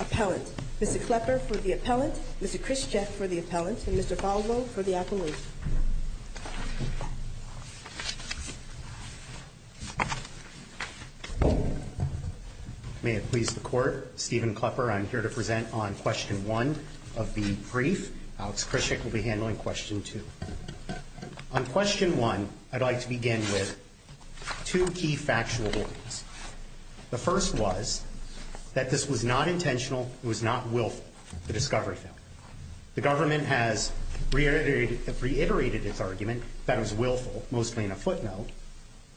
Appellant. Mr. Klepper for the Appellant, Mr. Khrushchev for the Appellant, and Mr. Falvo for the Appellant. May it please the Court, Stephen Klepper, I'm here to present on question one of the brief. Alex Khrushchev will be handling question two. On question one, I'd like to begin with two key factual holdings. The first was that this was not intentional, it was not willful, the discovery failed. The government has reiterated its argument that it was willful, mostly in a footnote,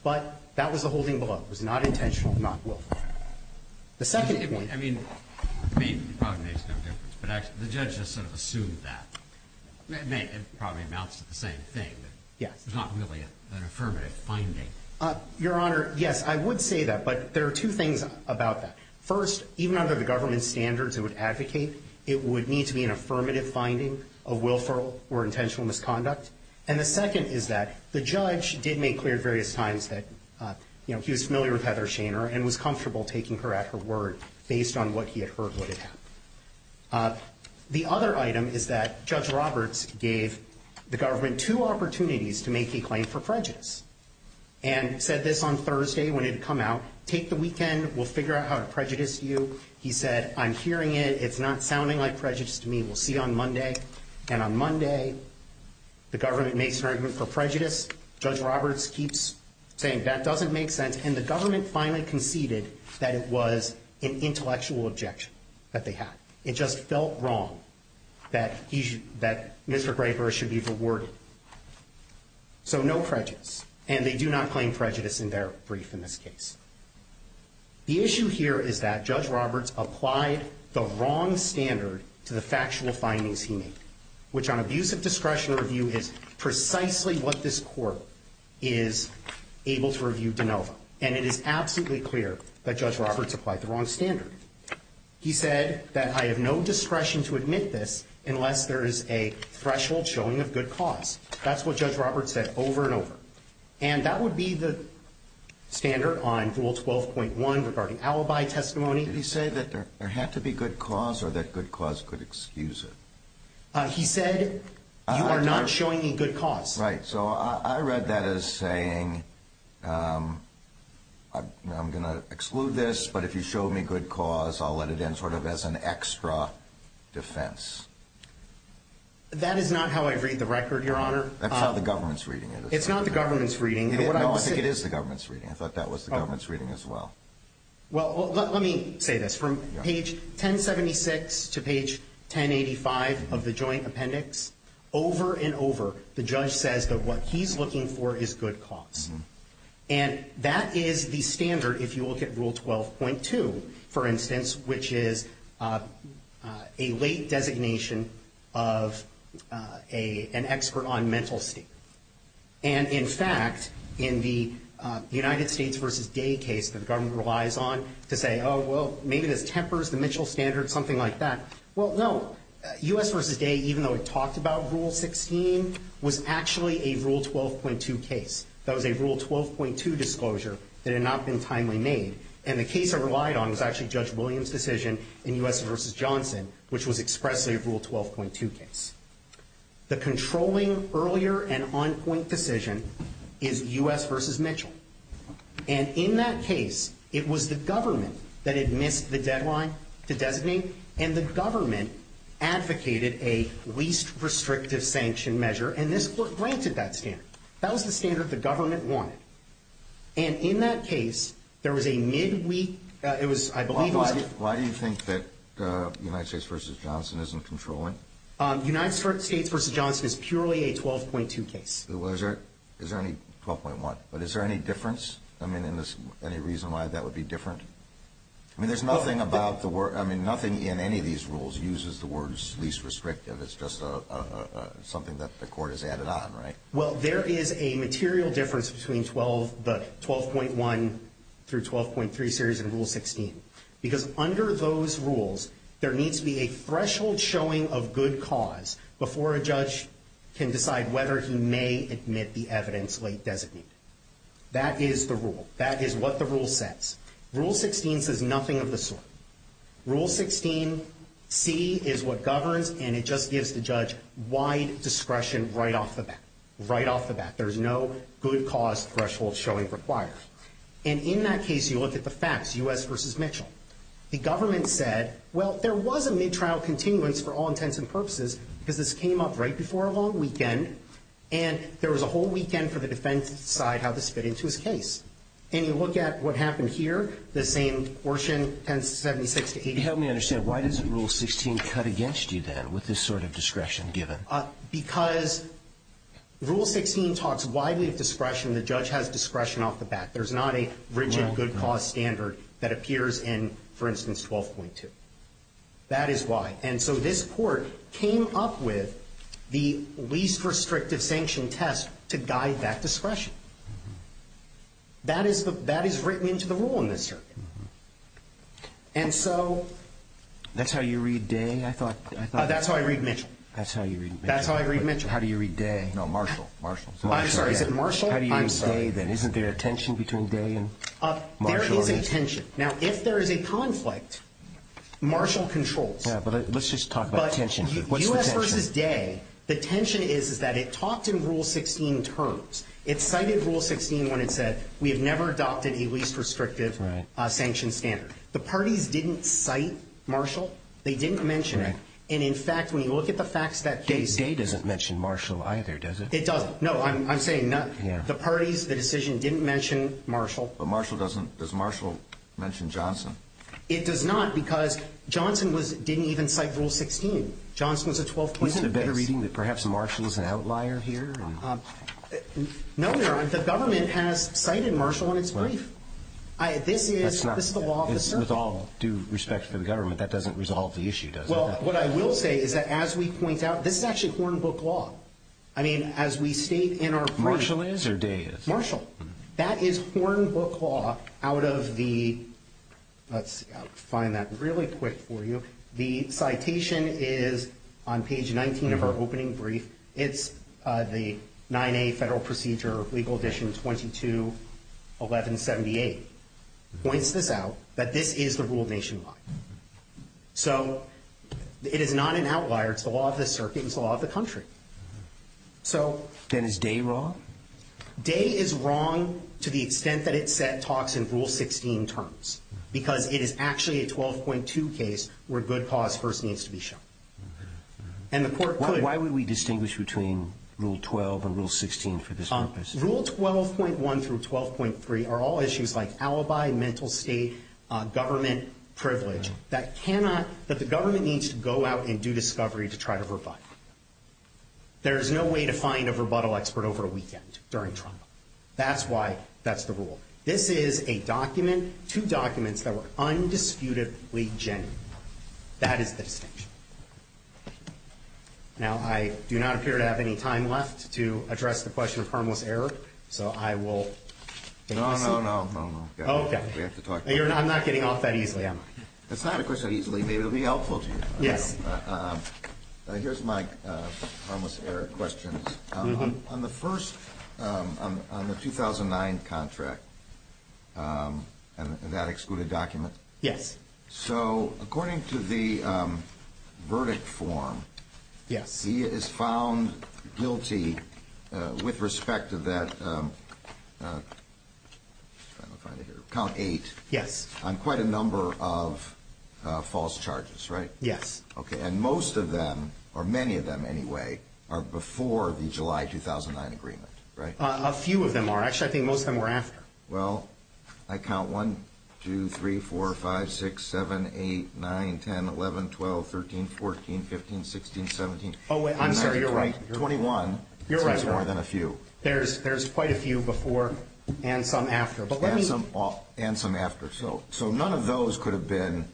but that was the holding below. It was not intentional, not willful. The second point... I mean, it probably makes no difference, but the judge just sort of assumed that. It probably amounts to the same thing. Yes. It's not really an affirmative finding. Your Honor, yes, I would say that, but there are two things about that. First, even under the government's standards, it would advocate, it would need to be an affirmative finding of willful or intentional misconduct. And the second is that the judge did make clear at various times that he was familiar with Heather Shaner and was comfortable taking her at her word based on what he had heard would have happened. The other item is that Judge Roberts gave the government two opportunities to make a prejudice and said this on Thursday when it had come out, take the weekend, we'll figure out how to prejudice you. He said, I'm hearing it, it's not sounding like prejudice to me. We'll see on Monday. And on Monday, the government makes an argument for prejudice. Judge Roberts keeps saying that doesn't make sense. And the government finally conceded that it was an intellectual objection that they had. It just felt wrong that Mr. Graper should be rewarded. So no prejudice. And they do not claim prejudice in their brief in this case. The issue here is that Judge Roberts applied the wrong standard to the factual findings he made, which on abuse of discretion review is precisely what this court is able to review de novo. And it is absolutely clear that Judge Roberts applied the wrong standard. He said that I have no discretion to admit this unless there is a threshold showing of good cause. That's what Judge Roberts said over and over. And that would be the standard on rule 12.1 regarding alibi testimony. Did he say that there had to be good cause or that good cause could excuse it? He said you are not showing me good cause. Right. So I read that as saying I'm going to exclude this, but if you show me good cause, I'll let it in sort of as an extra defense. That is not how I read the record, Your Honor. That's how the government's reading it. It's not the government's reading. No, I think it is the government's reading. I thought that was the government's reading as well. Well, let me say this. From page 1076 to page 1085 of the joint appendix, over and over, the judge says that what he's looking for is good cause. And that is the standard if you look at rule 12.2, for instance, which is a late designation of an expert on mental state. And in fact, in the United States v. Day case that the government relies on to say, oh, well, maybe this tempers the Mitchell standard, something like that. Well, no. U.S. v. Day, even though it talked about rule 16, was actually a rule 12.2 case. That was a rule 12.2 disclosure that had not been timely made. And the case I relied on was actually Judge Williams' decision in U.S. v. Johnson, which was expressly a rule 12.2 case. The controlling earlier and on-point decision is U.S. v. Mitchell. And in that case, it was the government that had missed the deadline to designate, and the government advocated a least restrictive sanction measure. And this court granted that standard. That was the standard the government wanted. And in that case, there was a mid-week, it was, I believe, it was- Why do you think that United States v. Johnson isn't controlling? United States v. Johnson is purely a 12.2 case. Is there any 12.1? But is there any difference? I mean, any reason why that would be different? I mean, there's nothing about the word. I mean, nothing in any of these rules uses the words least restrictive. It's just something that the court has added on, right? Well, there is a material difference between the 12.1 through 12.3 series in Rule 16. Because under those rules, there needs to be a threshold showing of good cause before a judge can decide whether he may admit the evidence late designated. That is the rule. That is what the rule says. Rule 16 says nothing of the sort. Rule 16c is what governs, and it just gives the judge wide discretion right off the bat. There's no good cause threshold showing required. And in that case, you look at the facts, U.S. v. Mitchell. The government said, well, there was a mid-trial continuance for all intents and purposes because this came up right before a long weekend. And there was a whole weekend for the defense to decide how this fit into his case. And you look at what happened here, the same portion, 1076 to 80- Help me understand. Why doesn't Rule 16 cut against you then with this sort of discretion given? Because Rule 16 talks widely of discretion. The judge has discretion off the bat. There's not a rigid good cause standard that appears in, for instance, 12.2. That is why. And so this court came up with the least restrictive sanction test to guide that discretion. That is written into the rule in this circuit. And so- That's how you read Day, I thought. That's how I read Mitchell. That's how you read Mitchell. That's how I read Mitchell. How do you read Day? No, Marshall. Marshall. I'm sorry, is it Marshall? I'm sorry. How do you read Day then? Isn't there a tension between Day and Marshall? There is a tension. Now, if there is a conflict, Marshall controls. Yeah, but let's just talk about tension here. What's the tension? U.S. versus Day. The tension is that it talked in Rule 16 terms. It cited Rule 16 when it said, we have never adopted a least restrictive sanction standard. The parties didn't cite Marshall. They didn't mention it. And in fact, when you look at the facts that Day said- Day doesn't mention Marshall either, does it? It doesn't. No, I'm saying the parties, the decision, didn't mention Marshall. But Marshall doesn't. Does Marshall mention Johnson? It does not because Johnson didn't even cite Rule 16. Johnson was a 12-point- Isn't it a better reading that perhaps Marshall's an outlier here? No, Your Honor. The government has cited Marshall in its brief. This is the law of the circle. With all due respect to the government, that doesn't resolve the issue, does it? What I will say is that as we point out, this is actually Horn Book Law. I mean, as we state in our- Marshall is or Day is? Marshall. That is Horn Book Law out of the, let's see, I'll find that really quick for you. The citation is on page 19 of our opening brief. It's the 9A Federal Procedure, Legal Edition 221178. Points this out, that this is the rule nationwide. So it is not an outlier, it's the law of the circuit, it's the law of the country. So- Then is Day wrong? Day is wrong to the extent that it set talks in Rule 16 terms. Because it is actually a 12.2 case where good cause first needs to be shown. And the court could- Why would we distinguish between Rule 12 and Rule 16 for this purpose? Rule 12.1 through 12.3 are all issues like alibi, mental state, government privilege that the government needs to go out and do discovery to try to rebut. There is no way to find a rebuttal expert over a weekend during trial. That's why that's the rule. This is a document, two documents that were undisputedly genuine. That is the distinction. Now, I do not appear to have any time left to address the question of harmless error. So I will- No, no, no, no, no, we have to talk about that. I'm not getting off that easily, am I? It's not a question of easily, maybe it'll be helpful to you. Yes. Here's my harmless error questions. On the first, on the 2009 contract, and that excluded document. Yes. So, according to the verdict form. Yes. He is found guilty with respect to that, I'm trying to find it here, count eight. Yes. On quite a number of false charges, right? Yes. Okay, and most of them, or many of them anyway, are before the July 2009 agreement, right? A few of them are. Actually, I think most of them were after. Well, I count 1, 2, 3, 4, 5, 6, 7, 8, 9, 10, 11, 12, 13, 14, 15, 16, 17. Oh, I'm sorry, you're right. 21. You're right. More than a few. There's quite a few before and some after. But let me- And some after, so none of those could have been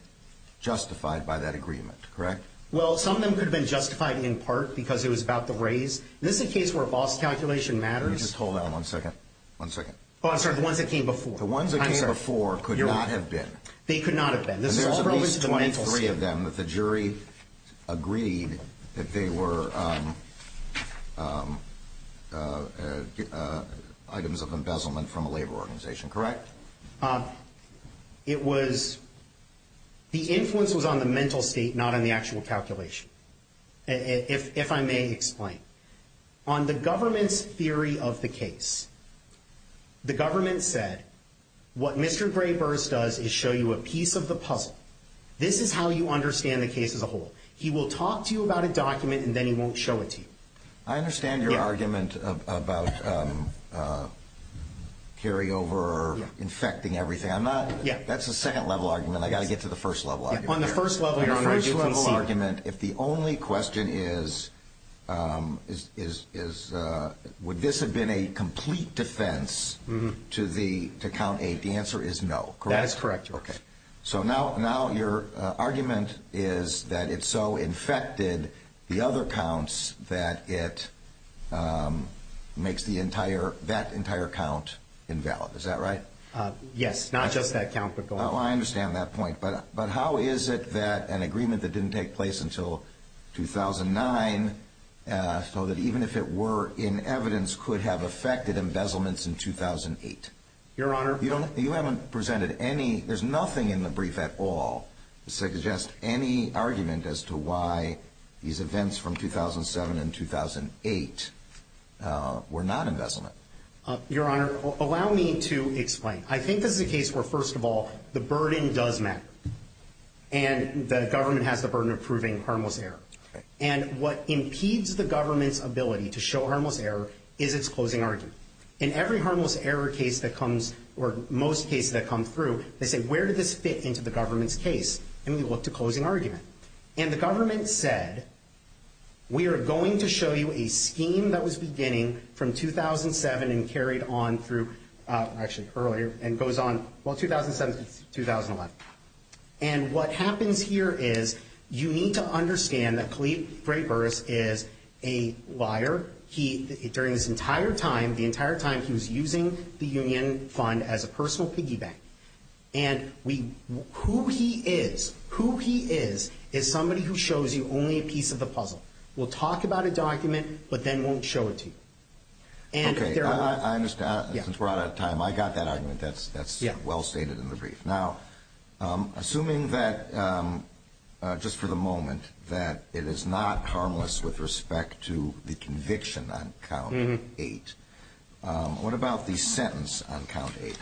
justified by that agreement, correct? Well, some of them could have been justified in part because it was about the raise. This is a case where false calculation matters. Let me just hold that one second. One second. Oh, I'm sorry, the ones that came before. The ones that came before could not have been. They could not have been. And there's at least 23 of them that the jury agreed that they were items of embezzlement from a labor organization, correct? It was, the influence was on the mental state, not on the actual calculation, if I may explain. On the government's theory of the case, the government said, what Mr. Gray-Burrs does is show you a piece of the puzzle. This is how you understand the case as a whole. He will talk to you about a document, and then he won't show it to you. I understand your argument about carryover or infecting everything. I'm not- Yeah. That's a second-level argument. I've got to get to the first-level argument. On the first-level, your Honor, I do concede- Would this have been a complete defense to count eight? The answer is no, correct? That is correct, Your Honor. Okay. So now your argument is that it so infected the other counts that it makes that entire count invalid. Is that right? Yes. Not just that count, but going- So that even if it were in evidence, could have affected embezzlements in 2008. Your Honor- You haven't presented any- There's nothing in the brief at all to suggest any argument as to why these events from 2007 and 2008 were not embezzlement. Your Honor, allow me to explain. I think this is a case where, first of all, the burden does matter. And the government has the burden of proving harmless error. And what impedes the government's ability to show harmless error is its closing argument. In every harmless error case that comes, or most cases that come through, they say, where did this fit into the government's case? And we look to closing argument. And the government said, we are going to show you a scheme that was beginning from 2007 and carried on through, actually earlier, and goes on, well, 2007 to 2011. And what happens here is, you need to understand that Khalid Freiburg is a liar. He, during this entire time, the entire time, he was using the union fund as a personal piggy bank. And we, who he is, who he is, is somebody who shows you only a piece of the puzzle. We'll talk about a document, but then won't show it to you. And if there are- I understand, since we're out of time. I got that argument. That's well stated in the brief. Now, assuming that, just for the moment, that it is not harmless with respect to the conviction on count eight, what about the sentence on count eight?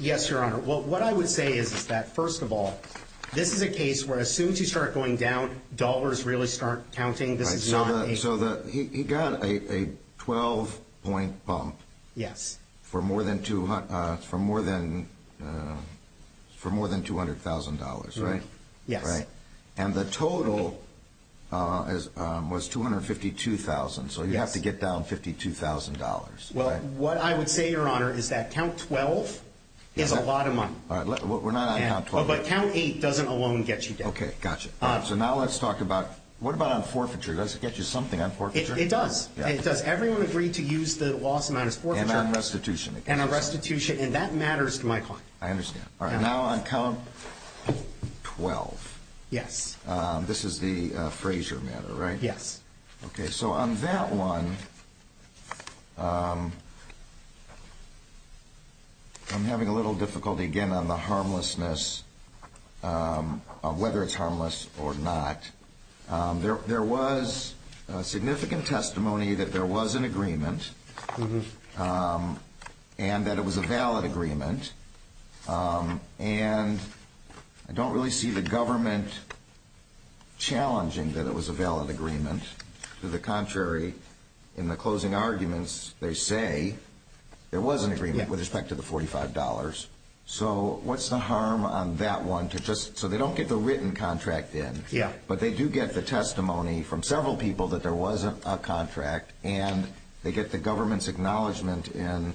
Yes, Your Honor. Well, what I would say is that, first of all, this is a case where as soon as you start going down, dollars really start counting. This is not a- So he got a 12-point bump. Yes. For more than $200,000, right? Yes. And the total was $252,000. So you have to get down $52,000. Well, what I would say, Your Honor, is that count 12 is a lot of money. All right, we're not on count 12. But count eight doesn't alone get you down. Okay, gotcha. So now let's talk about, what about on forfeiture? Does it get you something on forfeiture? It does. It does. Everyone agreed to use the loss amount as forfeiture. And on restitution. And on restitution, and that matters to my client. I understand. All right, now on count 12. Yes. This is the Frazier matter, right? Yes. Okay, so on that one, I'm having a little difficulty, again, on the harmlessness of whether it's harmless or not. There was significant testimony that there was an agreement, and that it was a valid agreement. And I don't really see the government challenging that it was a valid agreement. To the contrary, in the closing arguments, they say there was an agreement with respect to the $45. So what's the harm on that one? So they don't get the written contract in. Yeah. But they do get the testimony from several people that there was a contract. And they get the government's acknowledgment in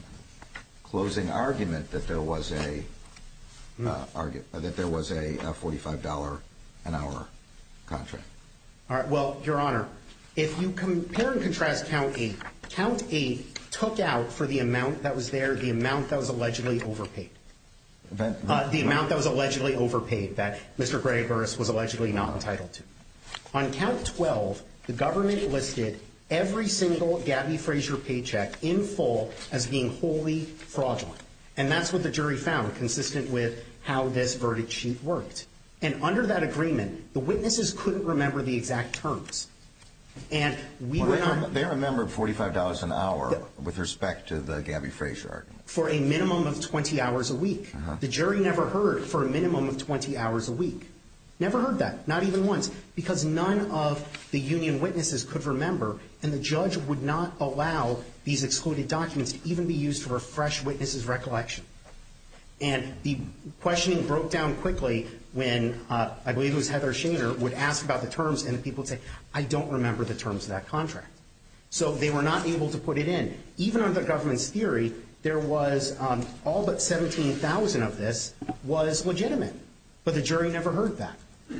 closing argument that there was a $45 an hour contract. All right, well, Your Honor, if you compare and contrast count eight. Count eight took out for the amount that was there, the amount that was allegedly overpaid. The amount that was allegedly overpaid that Mr. Gregory Burris was allegedly not entitled to. On count 12, the government listed every single Gabby Frazier paycheck in full as being wholly fraudulent. And that's what the jury found, consistent with how this verdict sheet worked. And under that agreement, the witnesses couldn't remember the exact terms. And we were not- They remembered $45 an hour with respect to the Gabby Frazier argument. For a minimum of 20 hours a week. The jury never heard for a minimum of 20 hours a week. Never heard that. Not even once. Because none of the union witnesses could remember. And the judge would not allow these excluded documents to even be used for fresh witnesses' recollection. And the questioning broke down quickly when, I believe it was Heather Shader, would ask about the terms. And the people would say, I don't remember the terms of that contract. So they were not able to put it in. Even under the government's theory, there was all but $17,000 of this was legitimate. But the jury never heard that.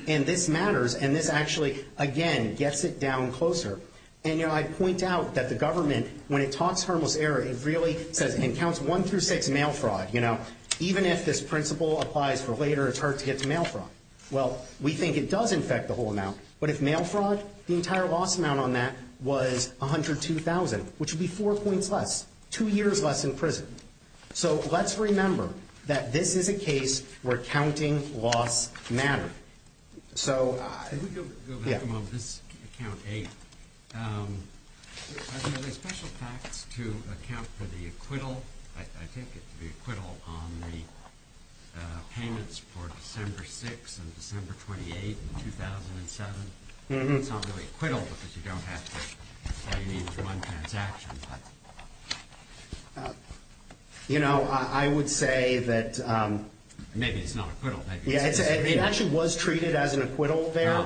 And this matters. And this actually, again, gets it down closer. And I point out that the government, when it talks harmless error, it really says and counts one through six mail fraud. Even if this principle applies for later, it's hard to get to mail fraud. Well, we think it does infect the whole amount. But if mail fraud, the entire loss amount on that was $102,000. Which would be four points less. Two years less in prison. So let's remember that this is a case where counting loss mattered. So yeah. If we could go back a moment. This Account 8. Are there special facts to account for the acquittal? I take it the acquittal on the payments for December 6 and December 28, 2007. It's not really acquittal, because you don't have to pay each one transaction. You know, I would say that. Maybe it's not acquittal. It actually was treated as an acquittal there.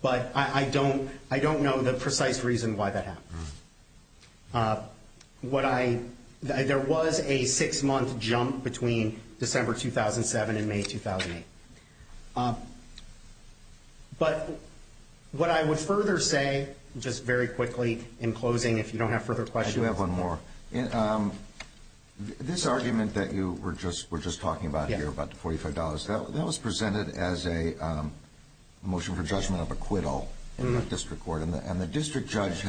But I don't know the precise reason why that happened. There was a six-month jump between December 2007 and May 2008. But what I would further say, just very quickly in closing, if you don't have further questions. I do have one more. This argument that you were just talking about here about the $45. That was presented as a motion for judgment of acquittal in the district court. And the district judge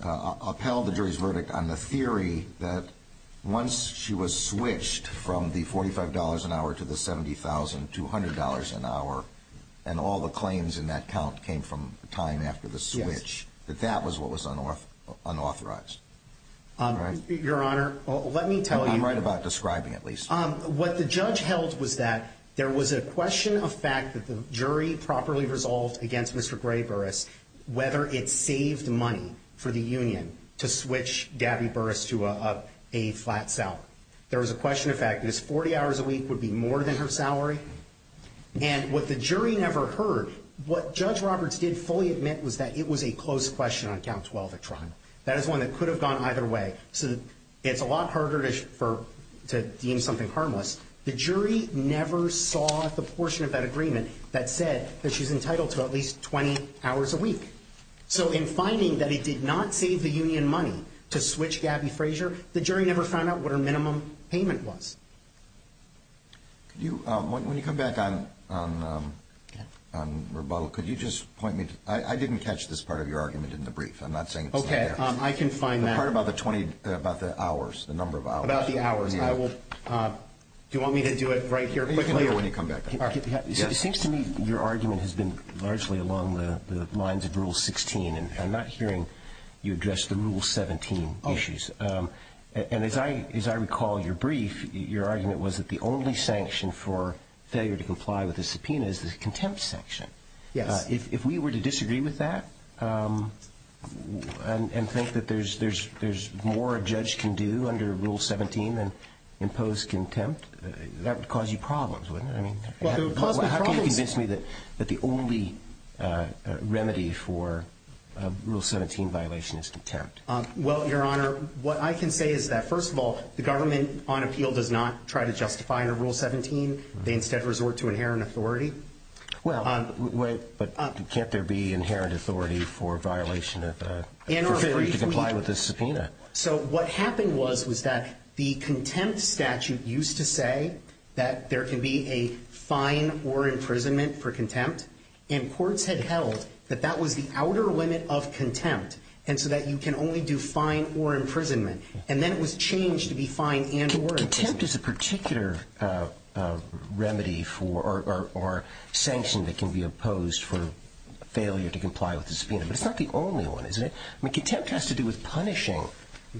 upheld the jury's verdict on the theory that once she was switched from the $45 an hour to the $70,200 an hour. And all the claims in that count came from time after the switch. That that was what was unauthorized. Your Honor, let me tell you. I'm right about describing at least. What the judge held was that there was a question of fact that the jury properly resolved against Mr. Gray Burris whether it saved money for the union to switch Gabby Burris to a flat cell. There was a question of fact that his 40 hours a week would be more than her salary. And what the jury never heard. What Judge Roberts did fully admit was that it was a close question on count 12 at trial. That is one that could have gone either way. So it's a lot harder to deem something harmless. The jury never saw the portion of that agreement that said that she's entitled to at least 20 hours a week. So in finding that he did not save the union money to switch Gabby Frazier, the jury never found out what her minimum payment was. Could you, when you come back on rebuttal, could you just point me to, I didn't catch this part of your argument in the brief. I'm not saying it's not there. Okay, I can find that. The part about the 20, about the hours, the number of hours. About the hours. I will. Do you want me to do it right here? You can do it when you come back. It seems to me your argument has been largely along the lines of Rule 16. And I'm not hearing you address the Rule 17 issues. And as I recall your brief, your argument was that the only sanction for failure to comply with a subpoena is the contempt sanction. Yes. If we were to disagree with that and think that there's more a judge can do under Rule 17 than impose contempt, that would cause you problems, wouldn't it? I mean, how can you convince me that the only remedy for a Rule 17 violation is contempt? Well, Your Honor, what I can say is that, first of all, the government on appeal does not try to justify a Rule 17. They instead resort to inherent authority. Well, but can't there be inherent authority for violation of, for failure to comply with a subpoena? So what happened was, was that the contempt statute used to say that there can be a fine or imprisonment for contempt. And courts had held that that was the outer limit of contempt. And so that you can only do fine or imprisonment. And then it was changed to be fine and work. Contempt is a particular remedy for, or sanction that can be opposed for failure to comply with a subpoena. But it's not the only one, is it? I mean, contempt has to do with punishing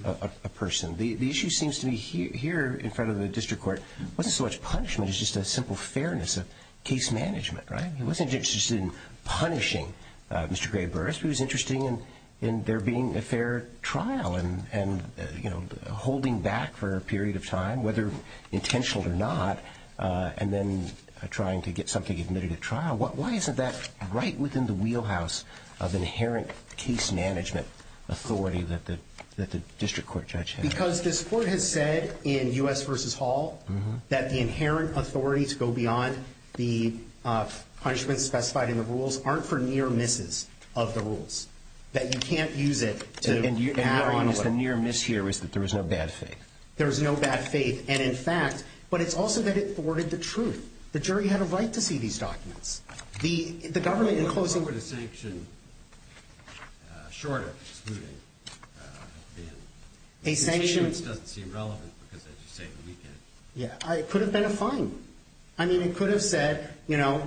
a person. The issue seems to me here in front of the district court, wasn't so much punishment, it's just a simple fairness of case management, right? He wasn't interested in punishing Mr. Gray Burris. He was interested in, in there being a fair trial and, and, you know, holding back for a period of time, whether intentional or not, and then trying to get something admitted at trial. Why isn't that right within the wheelhouse of inherent case management authority that the, that the district court judge had? Because this court has said in U.S. versus Hall that the inherent authority to go beyond the punishments specified in the rules aren't for near misses of the rules, that you can't use it to add on. The near miss here is that there is no bad faith. There is no bad faith. And in fact, but it's also that it thwarted the truth. The jury had a right to see these documents. The, the government in closing. What would a sanction short of excluding have been? A sanction. The statement doesn't seem relevant because as you say, we can't. Yeah, it could have been a fine. I mean, it could have said, you know,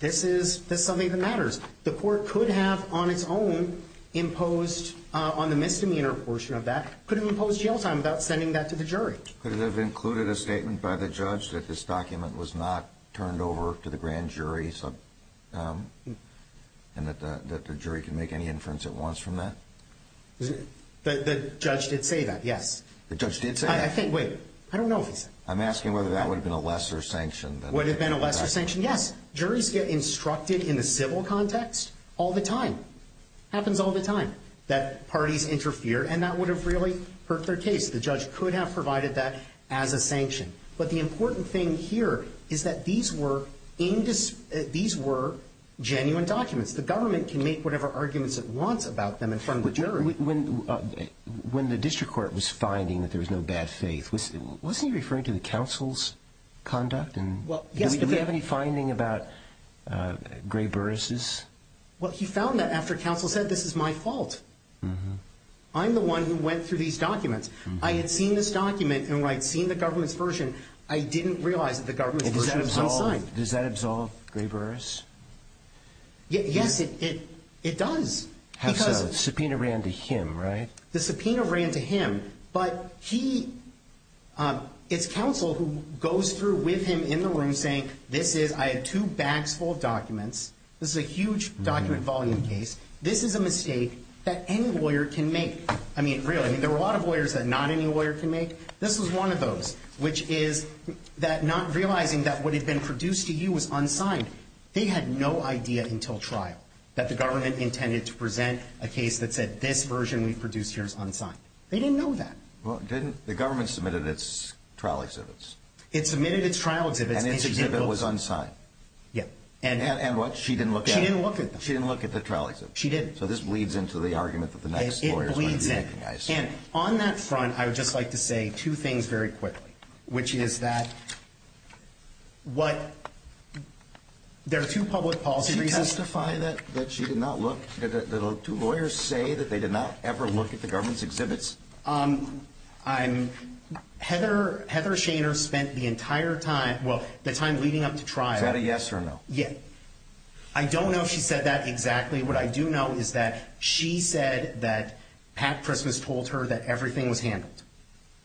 this is, this is something that matters. The court could have on its own imposed on the misdemeanor portion of that could have imposed jail time without sending that to the jury. Could it have included a statement by the judge that this document was not turned over to the grand jury? So, um, and that the, that the jury can make any inference at once from that. The judge did say that. Yes. The judge did say, I think, wait, I don't know. I'm asking whether that would have been a lesser sanction. That would have been a lesser sanction. Yes. Juries get instructed in the civil context all the time happens all the time that parties interfere. And that would have really hurt their case. The judge could have provided that as a sanction, but the important thing here is that these were in this, these were genuine documents. The government can make whatever arguments it wants about them in front of the jury. When, uh, when the district court was finding that there was no bad faith, wasn't he referring to the council's conduct and do we have any finding about, uh, gray Burris's? Well, he found that after council said, this is my fault. I'm the one who went through these documents. I had seen this document and when I'd seen the government's version, I didn't realize that the government's version was unsigned. Does that absolve gray Burris? Yes, it, it, it does. Subpoena ran to him, right? The subpoena ran to him, but he, um, it's council who goes through with him in the room saying, this is, I have two bags full of documents. This is a huge document volume case. This is a mistake that any lawyer can make. I mean, really, I mean, there were a lot of lawyers that not any lawyer can make. This was one of those, which is that not realizing that what had been produced to you was unsigned. They had no idea until trial that the government intended to present a case that said this version we've produced here is unsigned. They didn't know that. Well, didn't the government submitted its trial exhibits? It submitted its trial exhibits and its exhibit was unsigned. Yeah. And, and what she didn't look, she didn't look at them. She didn't look at the trial. She did. So this bleeds into the argument that the next, it bleeds in. And on that front, I would just like to say two things very quickly, which is that what there are two public policy reasons to find that, that she did not look at the two lawyers say that they did not ever look at the government's exhibits. Um, I'm Heather, Heather Shaner spent the entire time. Well, the time leading up to trial. Is that a yes or no? Yeah. I don't know if she said that exactly. What I do know is that she said that Pat Christmas told her that everything was handled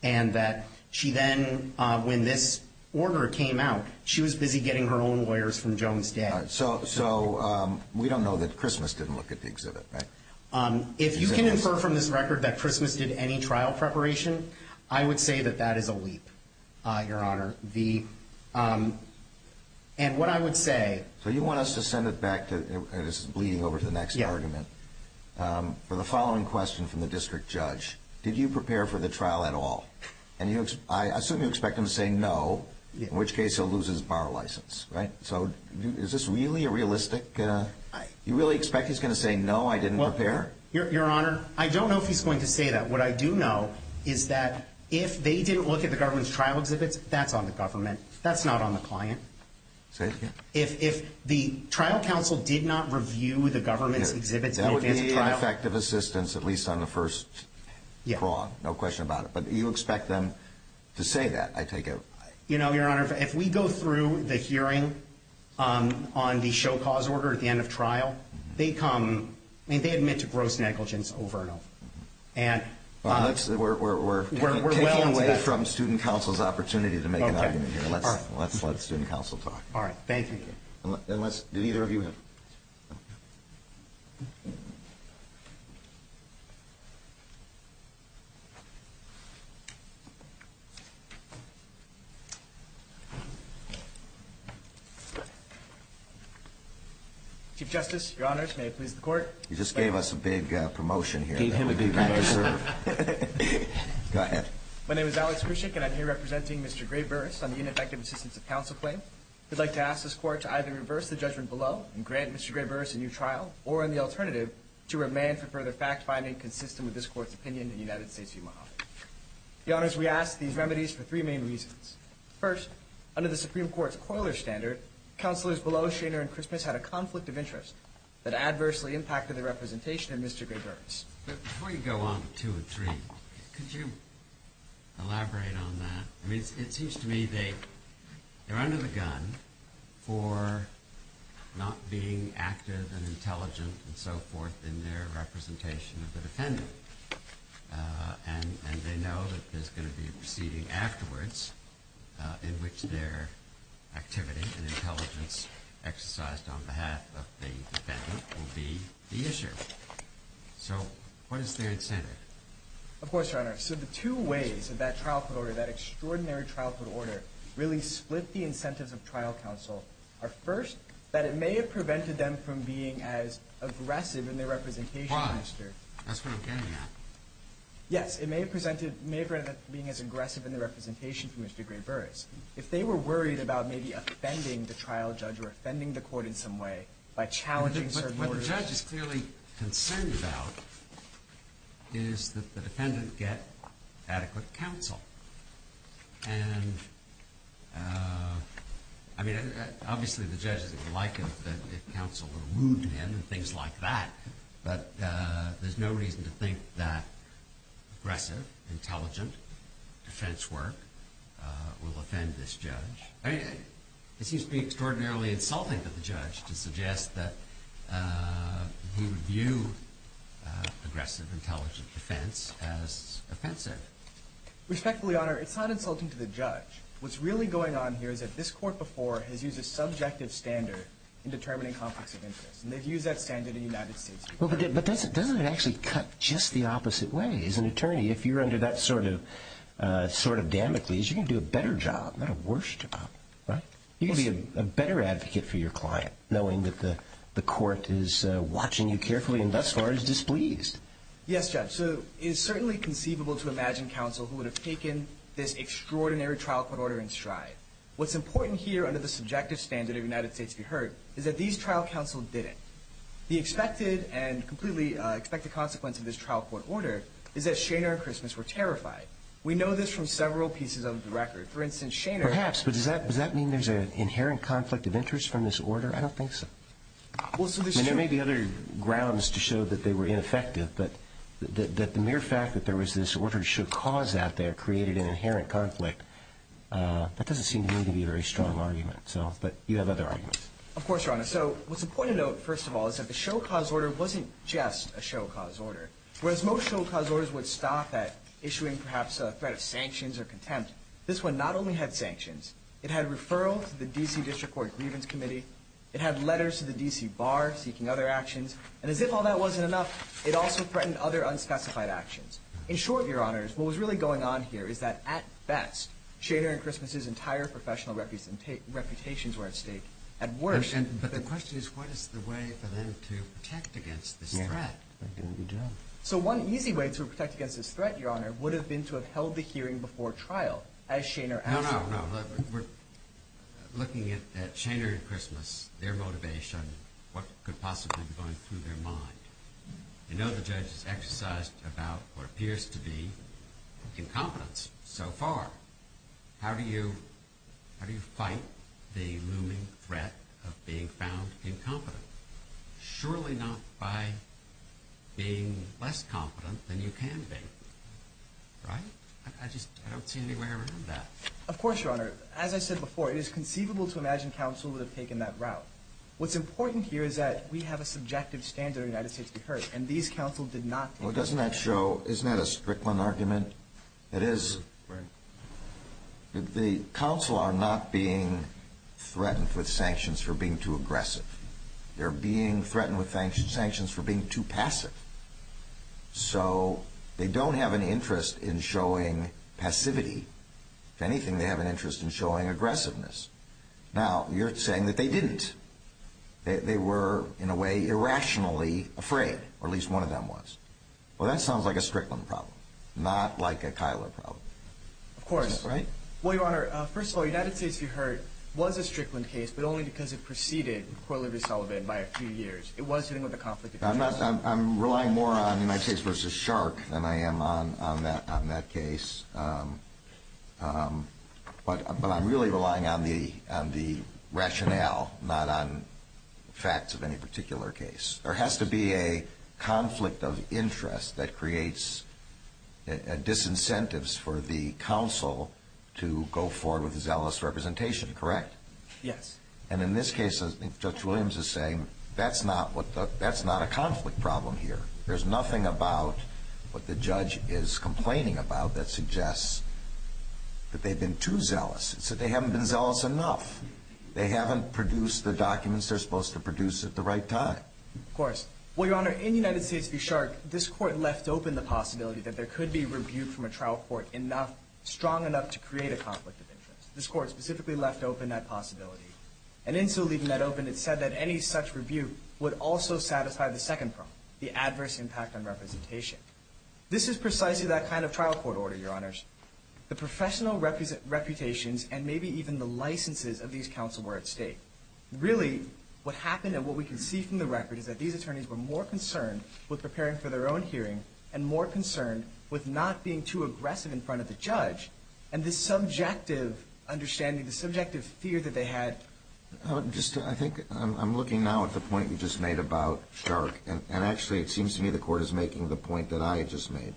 and that she then, uh, when this order came out, she was busy getting her own lawyers from Jones day. So, so, um, we don't know that Christmas didn't look at the exhibit, right? Um, if you can infer from this record that Christmas did any trial preparation, I would say that that is a leap, uh, your honor, the, um, and what I would say. So you want us to send it back to bleeding over to the next argument, um, for the following question from the district judge, did you prepare for the trial at all? And you, I assume you expect him to say no, in which case he'll lose his bar license, right? So is this really a realistic, uh, you really expect? He's going to say, no, I didn't prepare your honor. I don't know if he's going to say that. What I do know is that if they didn't look at the government's trial exhibits, that's on the government. That's not on the client. If, if the trial council did not review the government's exhibits, effective assistance, at least on the first, yeah, no question about it. But you expect them to say that I take it. You know, your honor, if we go through the hearing, um, on the show cause order at the end of trial, they come and they admit to gross negligence over and over. And we're, we're, we're, we're, we're well away from student council's opportunity to make an argument here. Let's let's let student council talk. All right. Thank you. Let's do either of you have chief justice, your honors. May it please the court. You just gave us a big promotion here. Go ahead. My name is Alex and I'm here representing Mr. Gray Burris on the ineffective assistance of counsel claim. We'd like to ask this court to either reverse the judgment below and grant Mr. Gray Burris a new trial or in the alternative to remain for further fact finding consistent with this court's opinion in the United States. The honors, we asked these remedies for three main reasons. First, under the Supreme court's coiler standard counselors below Shaner and Christmas had a conflict of interest that adversely impacted the representation of Mr. Gray Burris. But before you go on to a three, could you elaborate on that? It seems to me they they're under the gun for not being active and intelligent and so forth in their representation of the defendant. And they know that there's going to be a proceeding afterwards in which their activity and intelligence exercised on behalf of the defendant will be the issue. Of course, your honor. So the two ways of that trial could order that extraordinary trial could order really split the incentives of trial counsel are first, that it may have prevented them from being as aggressive in their representation. Why? That's what I'm getting at. Yes, it may have presented may have ended up being as aggressive in the representation from Mr. Gray Burris. If they were worried about maybe offending the trial judge or offending the court in some way by challenging. What the judge is clearly concerned about is that the defendant get adequate counsel. And I mean, obviously, the judge is likely that counsel would wound him and things like that. But there's no reason to think that aggressive, intelligent defense work will offend this judge. It seems to be extraordinarily insulting to the judge to suggest that he would view aggressive, intelligent defense as offensive. Respectfully, your honor, it's not insulting to the judge. What's really going on here is that this court before has used a subjective standard in determining conflicts of interest. And they've used that standard in the United States. But doesn't it actually cut just the opposite way? As an attorney, if you're under that sort of damage, you can do a better job, not a worse job, right? You can be a better advocate for your client, knowing that the court is watching you carefully and thus far is displeased. Yes, judge. So it is certainly conceivable to imagine counsel who would have taken this extraordinary trial court order in stride. What's important here under the subjective standard of the United States, if you heard, is that these trial counsel didn't. The expected and completely expected consequence of this trial court order is that Shainer and Christmas were terrified. We know this from several pieces of the record. For instance, Shainer- Perhaps. But does that mean there's an inherent conflict of interest from this order? I don't think so. Well, so this- And there may be other grounds to show that they were ineffective. But the mere fact that there was this order to show cause out there created an inherent conflict, that doesn't seem to me to be a very strong argument. So, but you have other arguments. Of course, Your Honor. So what's important to note, first of all, is that the show cause order wasn't just a show cause order. Whereas most show cause orders would stop at issuing perhaps a threat of sanctions or contempt, this one not only had sanctions, it had referral to the D.C. District Court Grievance Committee. It had letters to the D.C. Bar seeking other actions. And as if all that wasn't enough, it also threatened other unspecified actions. In short, Your Honors, what was really going on here is that, at best, Shainer and Christmas's entire professional reputations were at stake. At worst- But the question is, what is the way for them to protect against this threat? Yeah, they're doing a good job. So one easy way to protect against this threat, Your Honor, would have been to have held the court trial, as Shainer- No, no, no. Look, we're looking at Shainer and Christmas, their motivation, what could possibly be going through their mind. You know the judge has exercised about what appears to be incompetence so far. How do you fight the looming threat of being found incompetent? Surely not by being less competent than you can be. Right? I just, I don't see any way around that. Of course, Your Honor. As I said before, it is conceivable to imagine counsel would have taken that route. What's important here is that we have a subjective standard in the United States to be heard, and these counsel did not- Well, doesn't that show, isn't that a Strickland argument? It is. Right. The counsel are not being threatened with sanctions for being too aggressive. They're being threatened with sanctions for being too passive. So, they don't have an interest in showing passivity. If anything, they have an interest in showing aggressiveness. Now, you're saying that they didn't. They were, in a way, irrationally afraid, or at least one of them was. Well, that sounds like a Strickland problem, not like a Kyler problem. Of course. Right? Well, Your Honor, first of all, United States, you heard, was a Strickland case, but only because it preceded Corley v. Sullivan by a few years. It was dealing with a conflict of interest. I'm relying more on United States v. Shark than I am on that case. But I'm really relying on the rationale, not on facts of any particular case. There has to be a conflict of interest that creates disincentives for the counsel to go forward with zealous representation, correct? Yes. And in this case, I think Judge Williams is saying, that's not a conflict problem here. There's nothing about what the judge is complaining about that suggests that they've been too zealous. It's that they haven't been zealous enough. They haven't produced the documents they're supposed to produce at the right time. Of course. Well, Your Honor, in United States v. Shark, this court left open the possibility that there could be rebuke from a trial court strong enough to create a conflict of interest. This court specifically left open that possibility. And in so leaving that open, it said that any such rebuke would also satisfy the second problem, the adverse impact on representation. This is precisely that kind of trial court order, Your Honors. The professional reputations and maybe even the licenses of these counsel were at stake. Really, what happened and what we can see from the record is that these attorneys were more concerned with preparing for their own hearing and more concerned with not being too aggressive in front of the judge and the subjective understanding, the subjective fear that they had. I think I'm looking now at the point you just made about Shark, and actually it seems to me the court is making the point that I just made.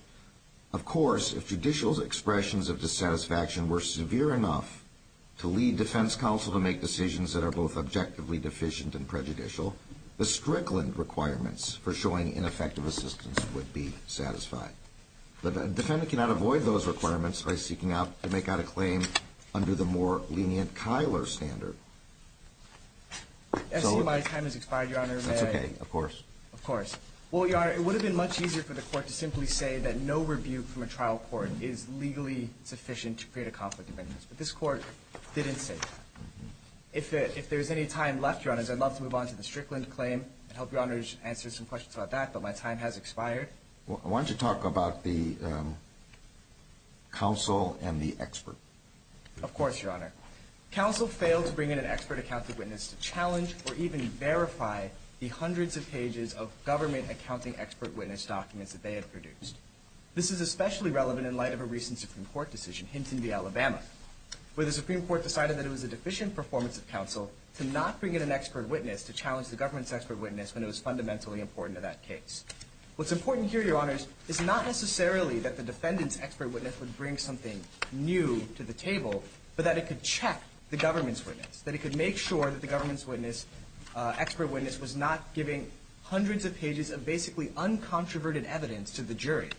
Of course, if judicial's expressions of dissatisfaction were severe enough to lead defense counsel to make decisions that are both objectively deficient and prejudicial, the Strickland requirements for showing ineffective assistance would be satisfied. But a defendant cannot avoid those requirements by seeking out to make out a claim under the more lenient Kyler standard. I see my time has expired, Your Honor. That's okay. Of course. Of course. Well, Your Honor, it would have been much easier for the court to simply say that no rebuke from a trial court is legally sufficient to create a conflict of interest. But this court didn't say that. If there's any time left, Your Honors, I'd love to move on to the Strickland claim and help Your Honors answer some questions about that, but my time has expired. Why don't you talk about the counsel and the expert? Of course, Your Honor. Counsel failed to bring in an expert accounting witness to challenge or even verify the hundreds of pages of government accounting expert witness documents that they had produced. This is especially relevant in light of a recent Supreme Court decision, Hinton v. Alabama, where the Supreme Court decided that it was a deficient performance of counsel to not bring in an expert witness to challenge the government's expert witness when it was fundamentally important to that case. What's important here, Your Honors, is not necessarily that the defendant's expert witness would bring something new to the table, but that it could check the government's witness. That it could make sure that the government's expert witness was not giving hundreds of pages of basically uncontroverted evidence to the jury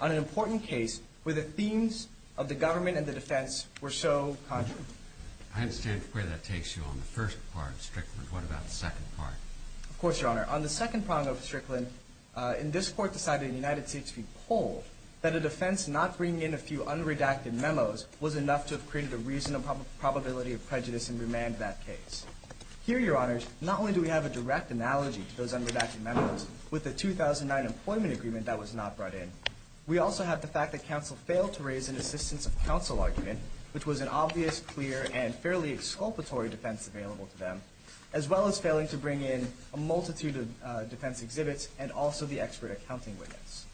on an important case where the themes of the government and the defense were so contrary. I understand where that takes you on the first part of Strickland. What about the second part? Of course, Your Honor. On the second prong of Strickland, in this court decided in the United States v. Poll that a defense not bringing in a few unredacted memos was enough to have created a reasonable probability of prejudice and remand that case. Here, Your Honors, not only do we have a direct analogy to those unredacted memos with the 2009 employment agreement that was not brought in, we also have the fact that counsel failed to raise an assistance of counsel argument, which was an obvious, clear, and fairly exculpatory defense available to them, as well as failing to bring in a multitude of defense exhibits and also the expert accounting witness.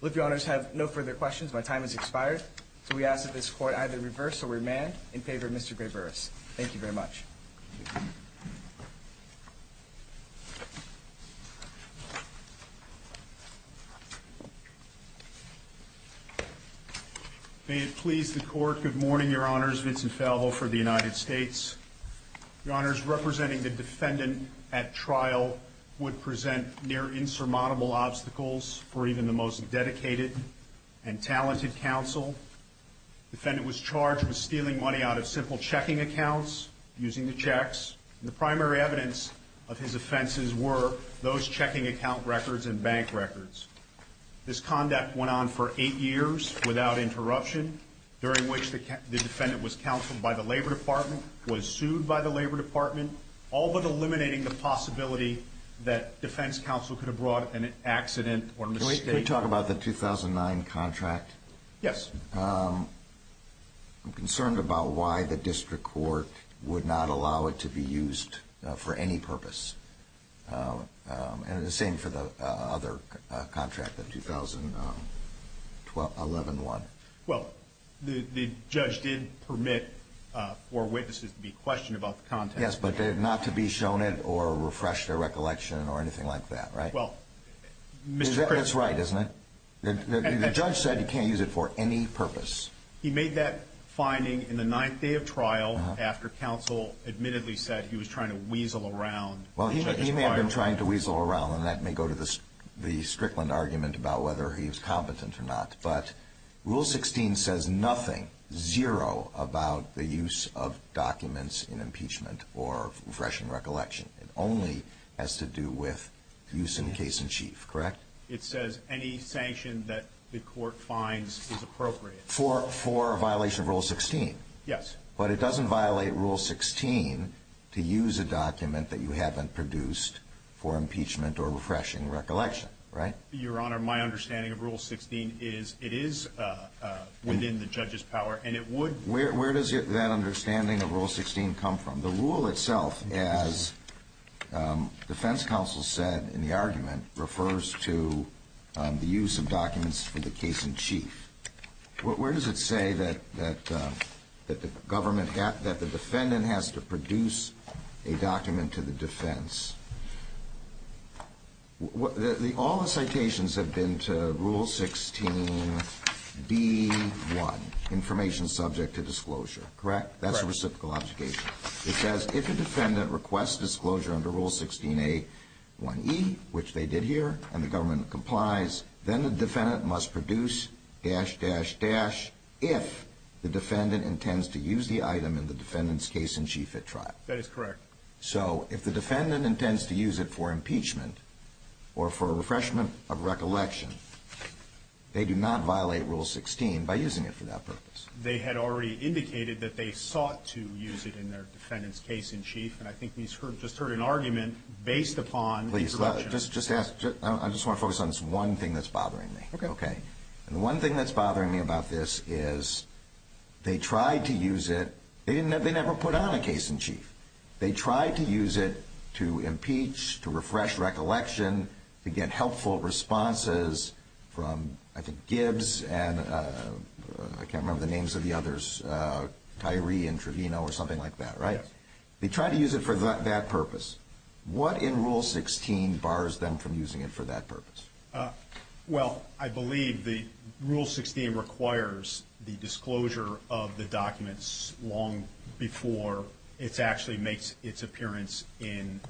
Well, if Your Honors have no further questions, my time has expired. So we ask that this court either reverse or remand in favor of Mr. Gray-Burris. Thank you very much. May it please the Court, good morning, Your Honors. Vincent Falvo for the United States. Your Honors, representing the defendant at trial would present near-insurmountable obstacles for even the most dedicated and talented counsel. Defendant was charged with stealing money out of simple checking accounts, using the checks, and the primary evidence of his offenses were those checking account records and bank records. This conduct went on for eight years without interruption, during which the defendant was counseled by the Labor Department, was sued by the Labor Department, all but eliminating the possibility that defense counsel could have brought an accident or mistake. Can we talk about the 2009 contract? Yes. I'm concerned about why the district court would not allow it to be used for any purpose. And the same for the other contract, the 2011 one. Well, the judge did permit for witnesses to be questioned about the contract. Yes, but not to be shown it or refresh their recollection or anything like that, right? Well, Mr. Gray- That's right, isn't it? The judge said you can't use it for any purpose. He made that finding in the ninth day of trial after counsel admittedly said he was trying to weasel around. Well, he may have been trying to weasel around, and that may go to the Strickland argument about whether he was competent or not. But Rule 16 says nothing, zero, about the use of documents in impeachment or refreshing recollection. It only has to do with use in case in chief, correct? It says any sanction that the court finds is appropriate. For violation of Rule 16? Yes. But it doesn't violate Rule 16 to use a document that you haven't produced for impeachment or refreshing recollection, right? Your Honor, my understanding of Rule 16 is it is within the judge's power, and it would- Where does that understanding of Rule 16 come from? The rule itself, as defense counsel said in the argument, refers to the use of documents for the case in chief. Where does it say that the defendant has to produce a document to the defense? All the citations have been to Rule 16b1, information subject to disclosure, correct? Correct. That's a reciprocal obligation. It says if a defendant requests disclosure under Rule 16a1e, which they did here, and the government complies, then the defendant must produce dash, dash, dash if the defendant intends to use the item in the defendant's case in chief at trial. That is correct. So if the defendant intends to use it for impeachment or for refreshment of recollection, they do not violate Rule 16 by using it for that purpose. They had already indicated that they sought to use it in their defendant's case in chief, and I think we just heard an argument based upon- Please, just ask. I just want to focus on this one thing that's bothering me. Okay. Okay. And the one thing that's bothering me about this is they tried to use it. They never put on a case in chief. They tried to use it to impeach, to refresh recollection, to get helpful responses from, I think, Gibbs and I can't remember the names of the others, Tyree and Trevino or something like that, right? Yes. They tried to use it for that purpose. What in Rule 16 bars them from using it for that purpose? Well, I believe the Rule 16 requires the disclosure of the documents long before it actually makes its appearance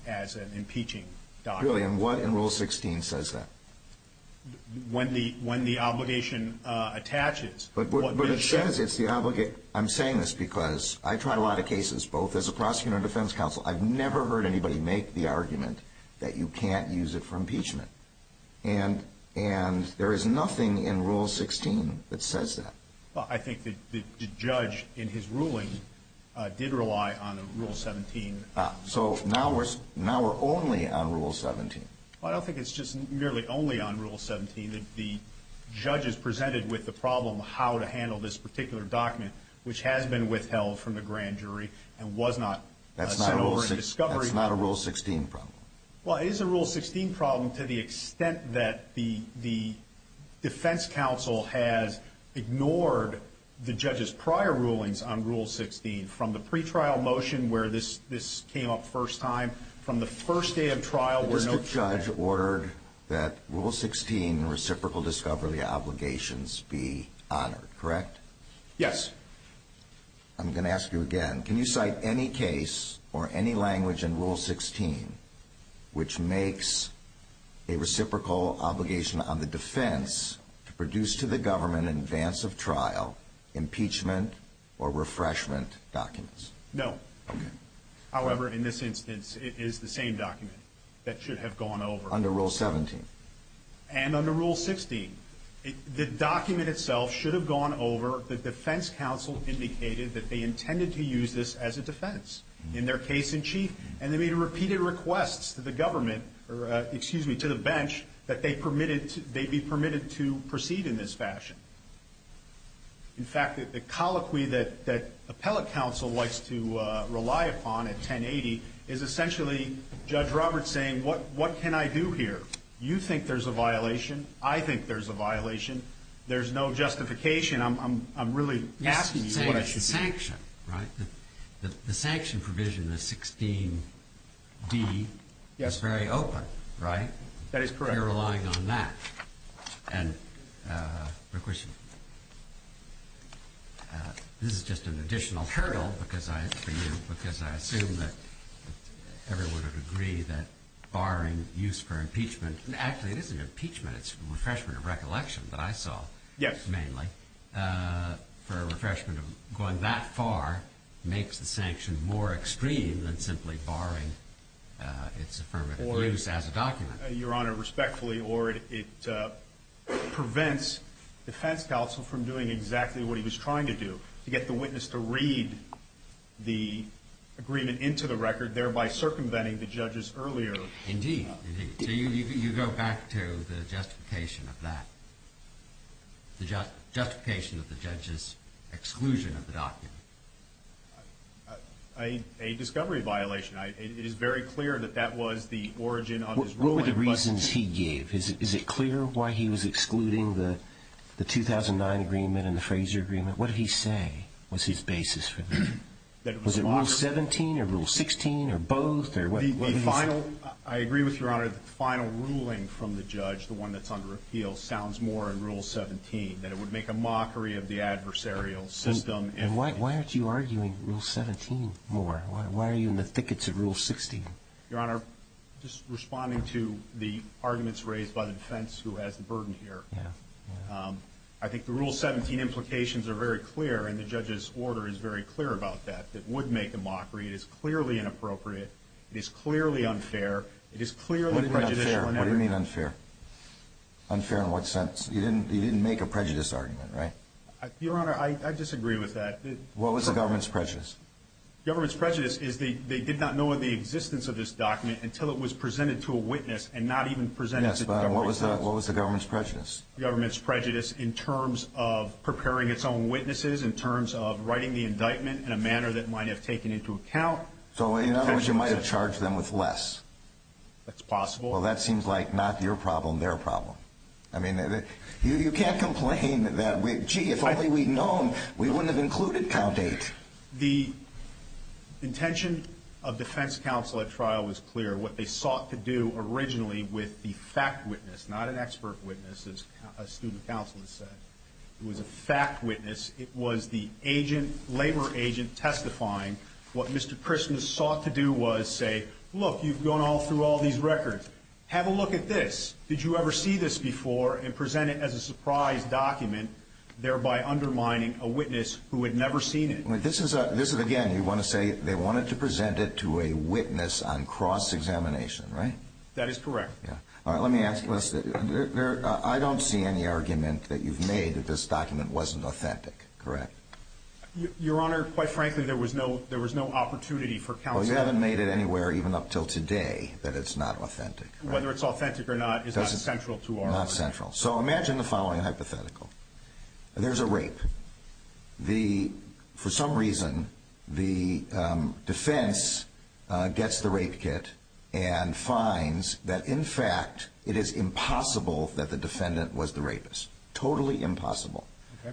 as an impeaching document. Really? And what in Rule 16 says that? When the obligation attaches- But it says it's the obligate. I'm saying this because I tried a lot of cases, both as a prosecutor and defense counsel. I've never heard anybody make the argument that you can't use it for impeachment. And there is nothing in Rule 16 that says that. Well, I think the judge in his ruling did rely on Rule 17. So now we're only on Rule 17. Well, I don't think it's just merely only on Rule 17 that the judge is presented with the problem of how to handle this particular document, which has been withheld from the grand jury and was not sent over in discovery. That's not a Rule 16 problem. Well, it is a Rule 16 problem to the extent that the defense counsel has ignored the judge's prior rulings on Rule 16, from the pretrial motion where this came up first time, from the first day of trial- But the district judge ordered that Rule 16, the reciprocal discovery obligations, be honored, correct? Yes. I'm going to ask you again. Can you cite any case or any language in Rule 16 which makes a reciprocal obligation on the defense to produce to the government in advance of trial impeachment or refreshment documents? No. However, in this instance, it is the same document that should have gone over. Under Rule 17. And under Rule 16, the document itself should have gone over. The defense counsel indicated that they intended to use this as a defense in their case-in-chief. And they made repeated requests to the government, or excuse me, to the bench, that they be permitted to proceed in this fashion. In fact, the colloquy that appellate counsel likes to rely upon at 1080 is essentially Judge Roberts saying, what can I do here? You think there's a violation. I think there's a violation. There's no justification. I'm really asking you what I should do. Yes, it's a sanction, right? The sanction provision, the 16D, is very open, right? That is correct. You're relying on that. And this is just an additional hurdle for you, because I assume that everyone would agree that barring use for impeachment, and actually, it isn't impeachment. It's refreshment of recollection that I saw. Yes. Mainly for refreshment of going that far makes the sanction more extreme than simply barring its affirmative use as a document. Your Honor, respectfully, or it prevents defense counsel from doing exactly what he was trying to do, to get the witness to read the agreement into the record, thereby circumventing the judge's earlier... Indeed, indeed. So you go back to the justification of that, the justification of the judge's exclusion of the document. A discovery violation. It is very clear that that was the origin of his ruling. What were the reasons he gave? Is it clear why he was excluding the 2009 agreement and the Fraser agreement? What did he say was his basis for that? Was it Rule 17 or Rule 16 or both? I agree with Your Honor. The final ruling from the judge, the one that's under appeal, sounds more in Rule 17, that it would make a mockery of the adversarial system. Why aren't you arguing Rule 17 more? Why are you in the thickets of Rule 16? Your Honor, just responding to the arguments raised by the defense who has the burden here, I think the Rule 17 implications are very clear, and the judge's order is very clear about that. It would make a mockery. It is clearly inappropriate. It is clearly unfair. It is clearly prejudicial. What do you mean unfair? Unfair in what sense? You didn't make a prejudice argument, right? Your Honor, I disagree with that. What was the government's prejudice? Government's prejudice is they did not know of the existence of this document until it was presented to a witness and not even presented to the government's witness. What was the government's prejudice? Government's prejudice in terms of preparing its own witnesses, in terms of writing the indictment in a manner that might have taken into account. So, in other words, you might have charged them with less. That's possible. Well, that seems like not your problem, their problem. I mean, you can't complain that, gee, if only we'd known, we wouldn't have included count eight. The intention of defense counsel at trial was clear. What they sought to do originally with the fact witness, not an expert witness, as a student counsel has said, it was a fact witness. It was the agent, labor agent, testifying. What Mr. Prisma sought to do was say, look, you've gone all through all these records. Have a look at this. Did you ever see this before and present it as a surprise document, thereby undermining a witness who had never seen it? This is, again, you want to say they wanted to present it to a witness on cross-examination, right? That is correct. Yeah. All right. Let me ask you this. I don't see any argument that you've made that this document wasn't authentic, correct? Your Honor, quite frankly, there was no opportunity for counsel. Well, you haven't made it anywhere, even up till today, that it's not authentic. Whether it's authentic or not is not central to our argument. Not central. So imagine the following hypothetical. There's a rape. The, for some reason, the defense gets the rape kit and finds that, in fact, it is impossible that the defendant was the rapist. Totally impossible.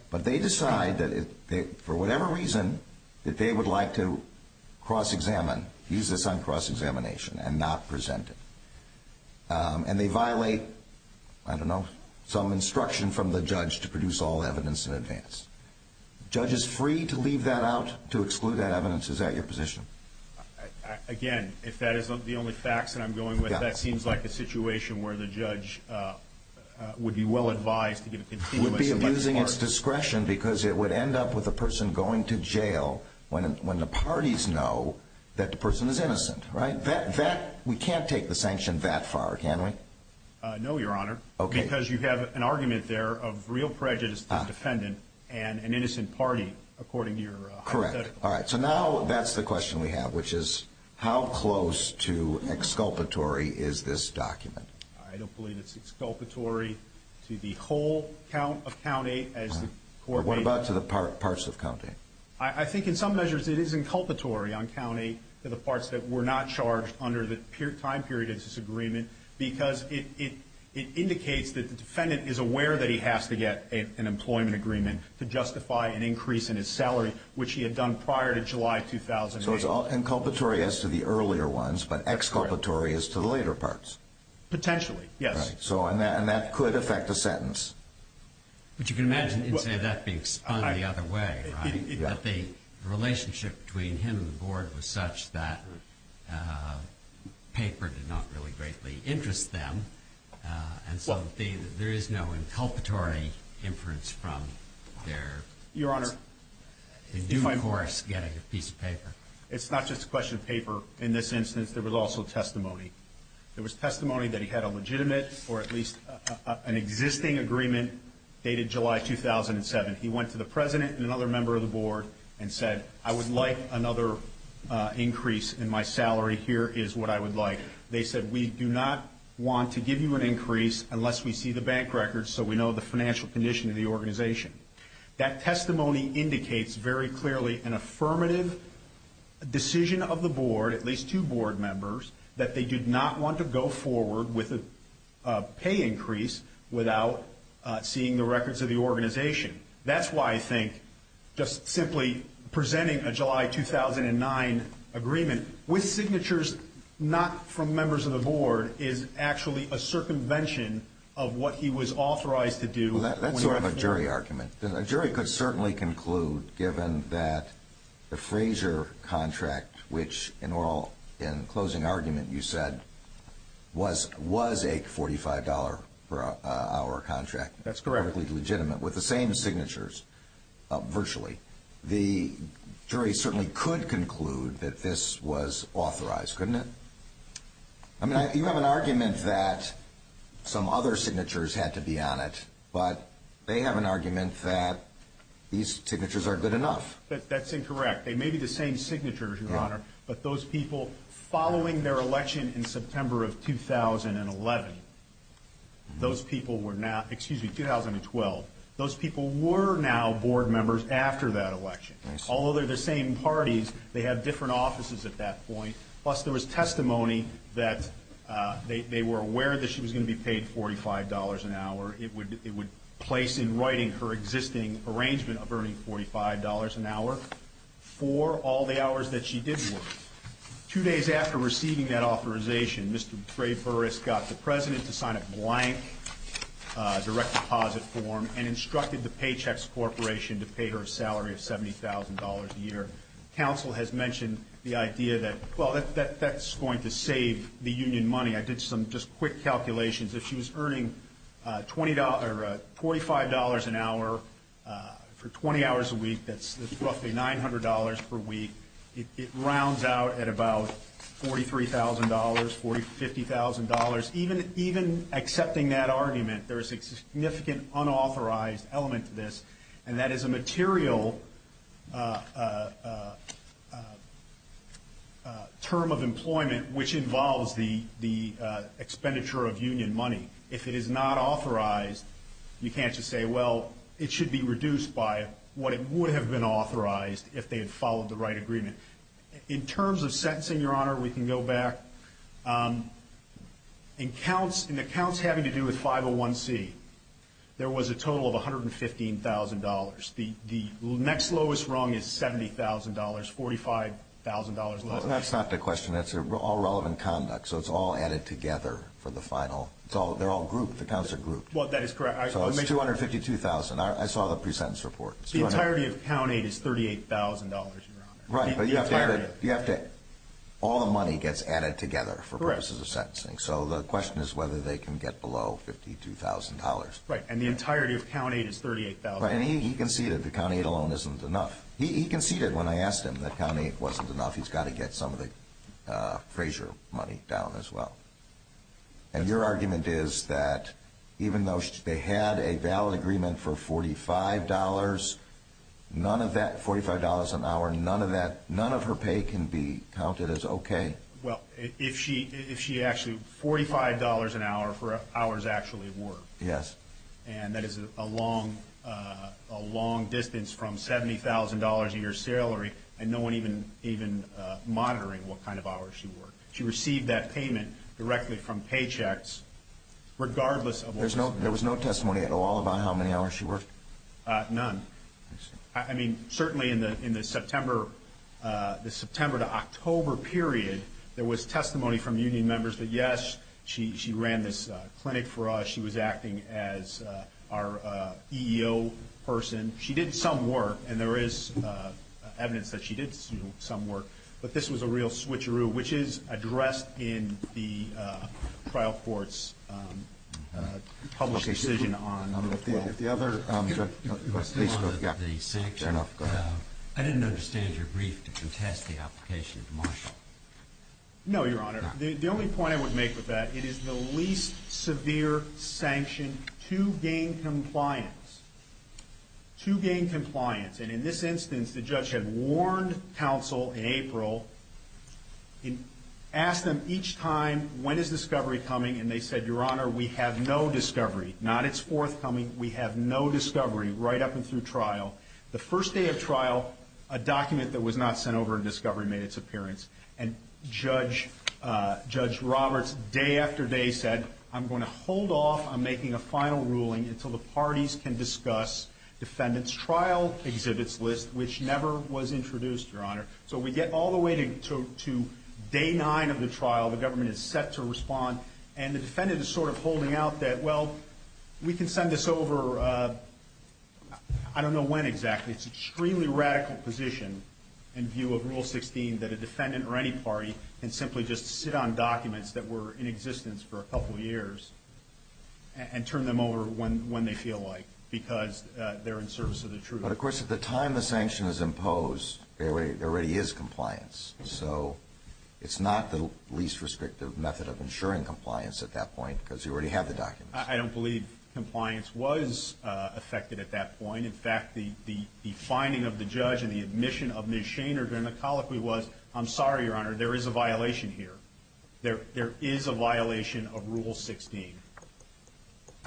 But they decide that, for whatever reason, that they would like to cross-examine, use this on cross-examination and not present it. And they violate, I don't know, some instruction from the judge to produce all evidence in this. The judge is free to leave that out, to exclude that evidence. Is that your position? Again, if that isn't the only facts that I'm going with, that seems like a situation where the judge would be well-advised to give a condemnation. Would be abusing its discretion because it would end up with a person going to jail when the parties know that the person is innocent, right? That, we can't take the sanction that far, can we? No, Your Honor. Okay. Because you have an argument there of real prejudice to the defendant and an innocent party, according to your hypothetical. Correct. All right. So now that's the question we have, which is, how close to exculpatory is this document? I don't believe it's exculpatory to the whole count of county as the court waited. Or what about to the parts of county? I think, in some measures, it is inculpatory on county to the parts that were not charged under the time period of this agreement because it indicates that the defendant is aware that he has to get an employment agreement to justify an increase in his salary, which he had done prior to July 2008. So it's inculpatory as to the earlier ones, but exculpatory as to the later parts? Potentially, yes. Right. So, and that could affect a sentence. But you can imagine, you'd say, that being spun the other way, right? That the relationship between him and the board was such that paper did not really greatly interest them. And so there is no inculpatory inference from their defense. Your Honor, it's not just a question of paper. In this instance, there was also testimony. There was testimony that he had a legitimate or at least an existing agreement dated July 2007. He went to the president and another member of the board and said, I would like another increase in my salary. Here is what I would like. They said, we do not want to give you an increase unless we see the bank records, so we know the financial condition of the organization. That testimony indicates very clearly an affirmative decision of the board, at least two board members, that they did not want to go forward with a pay increase without seeing the records of the organization. That's why I think just simply presenting a July 2009 agreement with signatures not from members of the board is actually a circumvention of what he was authorized to do. Well, that's sort of a jury argument. A jury could certainly conclude, given that the Frazier contract, which in closing argument you said was a $45 per hour contract, perfectly legitimate, with the same signatures, virtually, the jury certainly could conclude that this was authorized, couldn't it? I mean, you have an argument that some other signatures had to be on it, but they have an argument that these signatures are good enough. That's incorrect. They may be the same signatures, Your Honor, but those people following their election in September of 2011, those people were now, excuse me, 2012, those people were now board members after that election. Although they're the same parties, they have different offices at that point. Plus, there was testimony that they were aware that she was going to be paid $45 an hour. It would place in writing her existing arrangement of earning $45 an hour for all the hours that she did work. Two days after receiving that authorization, Mr. Trey Burris got the President to sign a blank direct deposit form and instructed the Paychex Corporation to pay her a salary of $70,000 a year. Counsel has mentioned the idea that, well, that's going to save the union money. I did some just quick calculations. If she was earning $25 an hour for 20 hours a week, that's roughly $900 per week. It rounds out at about $43,000, $50,000. Even accepting that argument, there is a significant unauthorized element to this, and that is a material term of employment which involves the expenditure of union money. If it is not authorized, you can't just say, well, it should be reduced by what it would have been authorized if they had followed the right agreement. In terms of sentencing, Your Honor, we can go back. In the counts having to do with 501C, there was a total of $115,000. The next lowest rung is $70,000, $45,000 lower. That's not the question. That's all relevant conduct, so it's all added together for the final. They're all grouped. The counts are grouped. Well, that is correct. So it's $252,000. I saw the pre-sentence report. The entirety of count 8 is $38,000, Your Honor. Right, but all the money gets added together for purposes of sentencing. So the question is whether they can get below $52,000. Right, and the entirety of count 8 is $38,000. Right, and he conceded the count 8 alone isn't enough. He conceded when I asked him that count 8 wasn't enough. He's got to get some of the Frazier money down as well. And your argument is that even though they had a valid agreement for $45, none of that, $45 an hour, none of that, none of her pay can be counted as okay? Well, if she actually, $45 an hour for hours actually worked. Yes. And that is a long distance from $70,000 a year salary and no one even monitoring what kind of hours she worked. She received that payment directly from paychecks regardless of- There was no testimony at all about how many hours she worked? None. I mean, certainly in the September to October period, there was testimony from union members that yes, she ran this clinic for us. She was acting as our EEO person. She did some work and there is evidence that she did some work. But this was a real switcheroo, which is addressed in the trial court's published decision on- If the other- I didn't understand your brief to contest the application of Marshall. No, Your Honor. The only point I would make with that, it is the least severe sanction to gain compliance, to gain compliance. And in this instance, the judge had warned counsel in April, asked them each time, when is discovery coming? And they said, Your Honor, we have no discovery. Not it's forthcoming. We have no discovery right up and through trial. The first day of trial, a document that was not sent over in discovery made its appearance. And Judge Roberts day after day said, I'm going to hold off on making a final ruling until the parties can discuss defendant's trial exhibits list, which never was introduced, Your Honor. So we get all the way to day nine of the trial. The government is set to respond. And the defendant is sort of holding out that, well, we can send this over. I don't know when exactly. It's extremely radical position in view of Rule 16, that a defendant or any party can simply just sit on documents that were in existence for a couple of years and turn them over when they feel like, because they're in service of the truth. But of course, at the time the sanction is imposed, there already is compliance. So it's not the least restrictive method of ensuring compliance at that point, because you already have the documents. I don't believe compliance was affected at that point. In fact, the finding of the judge and the admission of Ms. Shaner during the colloquy was, I'm sorry, Your Honor, there is a violation here. There is a violation of Rule 16.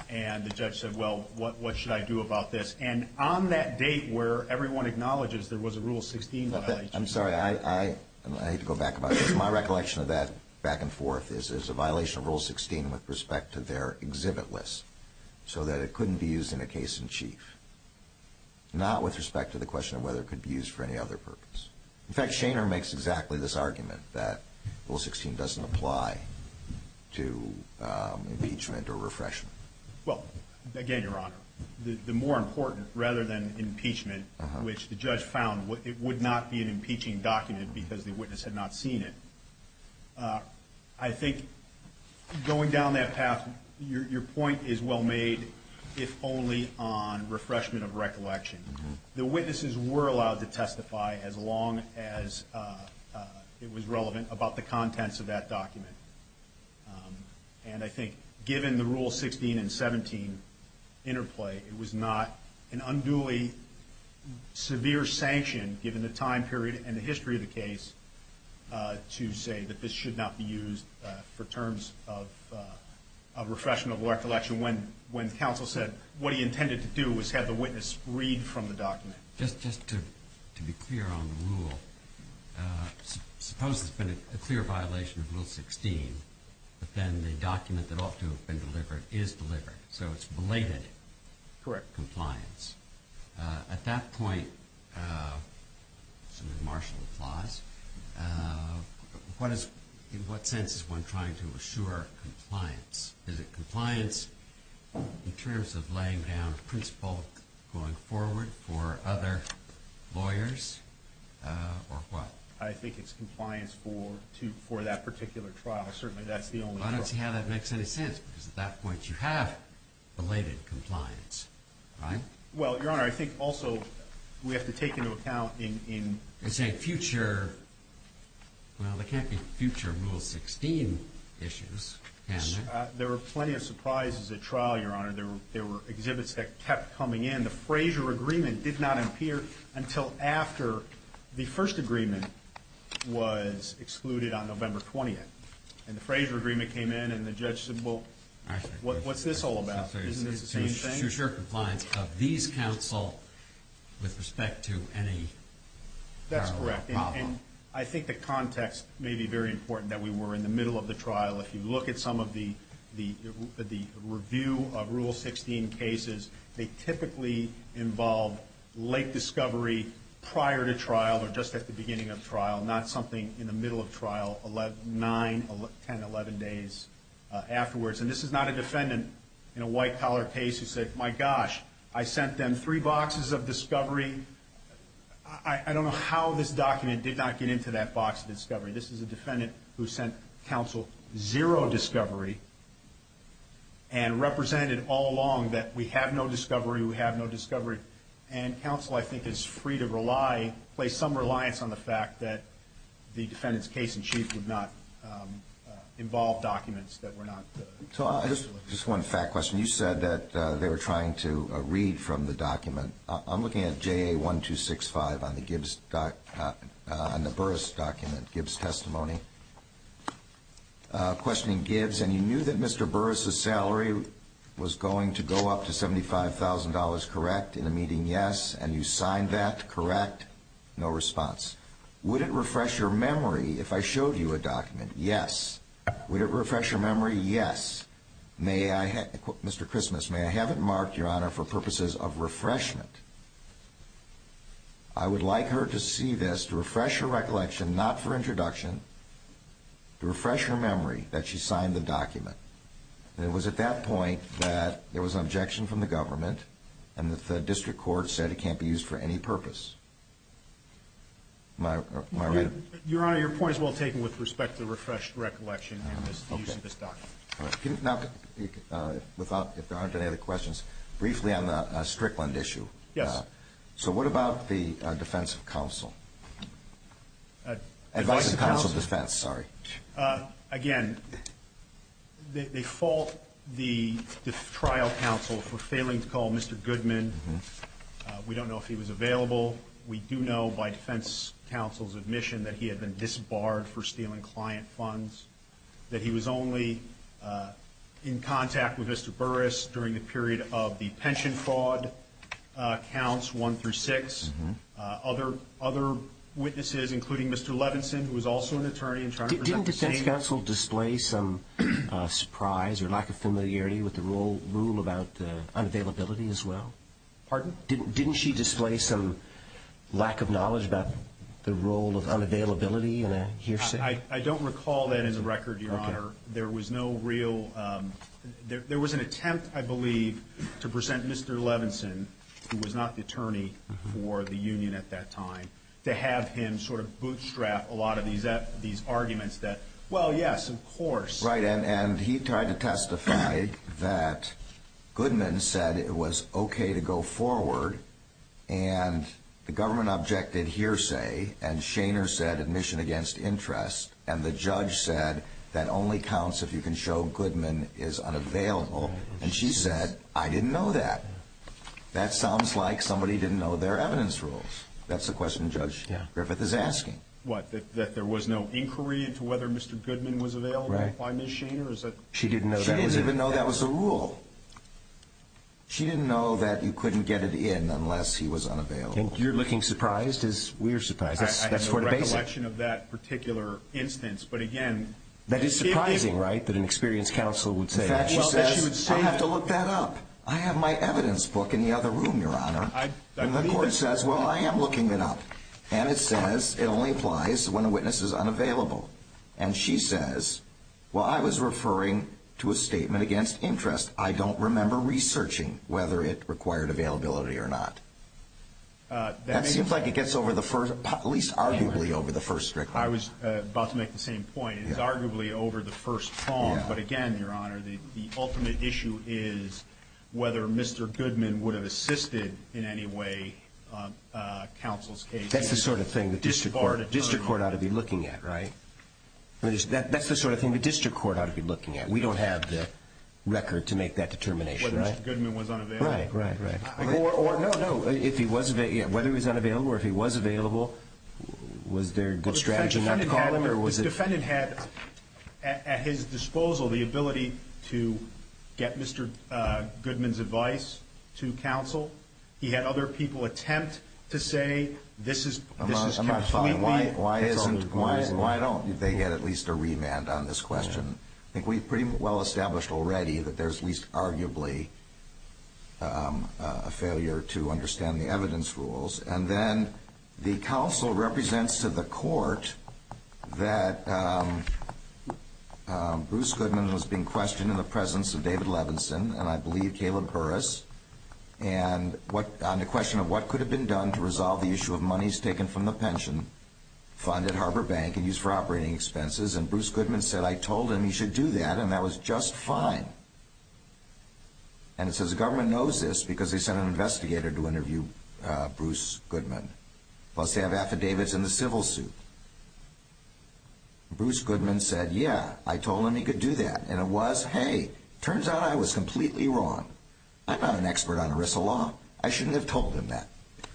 And the judge said, well, what should I do about this? And on that date where everyone acknowledges there was a Rule 16 violation. I'm sorry, I hate to go back about this. My recollection of that back and forth is, there's a violation of Rule 16 with respect to their exhibit list. So that it couldn't be used in a case in chief. Not with respect to the question of whether it could be used for any other purpose. In fact, Shaner makes exactly this argument that Rule 16 doesn't apply to impeachment or refreshment. Well, again, Your Honor, the more important, rather than impeachment, which the judge found it would not be an impeaching document because the witness had not seen it. I think going down that path, your point is well made, if only on refreshment of recollection. The witnesses were allowed to testify as long as it was relevant about the contents of that document. And I think given the Rule 16 and 17 interplay, it was not an unduly severe sanction given the time period and the history of the case to say that this should not be used for terms of refreshment of recollection. When counsel said what he intended to do was have the witness read from the document. Just to be clear on the rule, suppose there's been a clear violation of Rule 16, but then the document that ought to have been delivered is delivered, so it's belated compliance. At that point, some marshal applause, in what sense is one trying to assure compliance? Is it compliance in terms of laying down a principle going forward for other lawyers, or what? I think it's compliance for that particular trial. Certainly, that's the only trial. I don't see how that makes any sense because at that point you have belated compliance, right? Well, Your Honor, I think also we have to take into account in, say, future, well, there can't be future Rule 16 issues, can there? There were plenty of surprises at trial, Your Honor. There were exhibits that kept coming in. The Frazier agreement did not appear until after the first agreement was excluded on November 20th, and the Frazier agreement came in and the judge said, well, what's this all about? Isn't this the same thing? To assure compliance of these counsel with respect to any parallel problem. That's correct, and I think the context may be very important that we were in the middle of the trial. If you look at some of the review of Rule 16 cases, they typically involve late discovery prior to trial, or just at the beginning of trial, not something in the middle of trial, nine, 10, 11 days afterwards, and this is not a defendant in a white-collar case who said, my gosh, I sent them three boxes of discovery. into that box of discovery. This is a defendant who sent counsel zero discovery and represented all along that we have no discovery, we have no discovery, and counsel, I think, is free to rely, place some reliance on the fact that the defendant's case-in-chief would not involve documents that were not. Just one fact question. You said that they were trying to read from the document. I'm looking at JA 1265 on the Gibbs, on the Burris document, Gibbs testimony, questioning Gibbs, and you knew that Mr. Burris's salary was going to go up to $75,000, correct, in a meeting? Yes. And you signed that, correct? No response. Would it refresh your memory if I showed you a document? Yes. Would it refresh your memory? Yes. May I, Mr. Christmas, may I have it marked, Your Honor, for purposes of refreshment? I would like her to see this to refresh her recollection, not for introduction, to refresh her memory that she signed the document. And it was at that point that there was an objection from the government and that the district court said it can't be used for any purpose. Am I right? Your Honor, your point is well taken with respect to the refreshed recollection and the use of this document. Okay. Now, without, if there aren't any other questions, briefly on the Strickland issue. Yes. So what about the defense of counsel? Advice of counsel defense, sorry. Again, they fault the trial counsel for failing to call Mr. Goodman. We don't know if he was available. We do know by defense counsel's admission that he had been disbarred for stealing client funds, that he was only in contact with Mr. Burris during the period of the pension fraud. Counts one through six. Other witnesses, including Mr. Levinson, who was also an attorney and trying to present the same- Didn't defense counsel display some surprise or lack of familiarity with the rule about the unavailability as well? Pardon? Didn't she display some lack of knowledge about the role of unavailability in a hearsay? I don't recall that as a record, your Honor. There was no real, there was an attempt, I believe, to present Mr. Levinson, who was not the attorney for the union at that time, to have him sort of bootstrap a lot of these arguments that, well, yes, of course. Right, and he tried to testify that Goodman said it was okay to go forward and the government objected hearsay and Shaner said admission against interest and the judge said that only counts if you can show Goodman is unavailable and she said, I didn't know that. That sounds like somebody didn't know their evidence rules. That's the question Judge Griffith is asking. What, that there was no inquiry into whether Mr. Goodman was available? Right. Why, Ms. Shaner, is that- She didn't know that. She didn't even know that was a rule. She didn't know that you couldn't get it in unless he was unavailable. You're looking surprised as we're surprised. I have no recollection of that particular instance, but again- That is surprising, right, that an experienced counsel would say that. I have to look that up. I have my evidence book in the other room, Your Honor. The court says, well, I am looking it up and it says it only applies when a witness is unavailable and she says, well, I was referring to a statement against interest. I don't remember researching whether it required availability or not. That seems like it gets over the first, at least arguably over the first strictly. I was about to make the same point. It is arguably over the first poem, but again, Your Honor, the ultimate issue is whether Mr. Goodman would have assisted in any way counsel's case. That's the sort of thing the district court ought to be looking at, right? That's the sort of thing the district court ought to be looking at. We don't have the record to make that determination. Whether Mr. Goodman was unavailable. Right, right, right. Whether he was unavailable or if he was available, was there a good strategy not to call him or was it- The defendant had at his disposal the ability to get Mr. Goodman's advice to counsel. He had other people attempt to say, this is completely- I'm not following. Why don't they get at least a remand on this question? I think we've pretty well established already that there's at least arguably a failure to understand the evidence rules. And then the counsel represents to the court that Bruce Goodman was being questioned in the presence of David Levinson and I believe Caleb Burris and on the question of what could have been done to resolve the issue of monies taken from the pension fund at Harbor Bank and used for operating expenses. And Bruce Goodman said, I told him he should do that and that was just fine. And it says the government knows this because they sent an investigator to interview Bruce Goodman. Plus they have affidavits in the civil suit. And Bruce Goodman said, yeah, I told him he could do that. And it was, hey, turns out I was completely wrong. I'm not an expert on ERISA law. I shouldn't have told him that.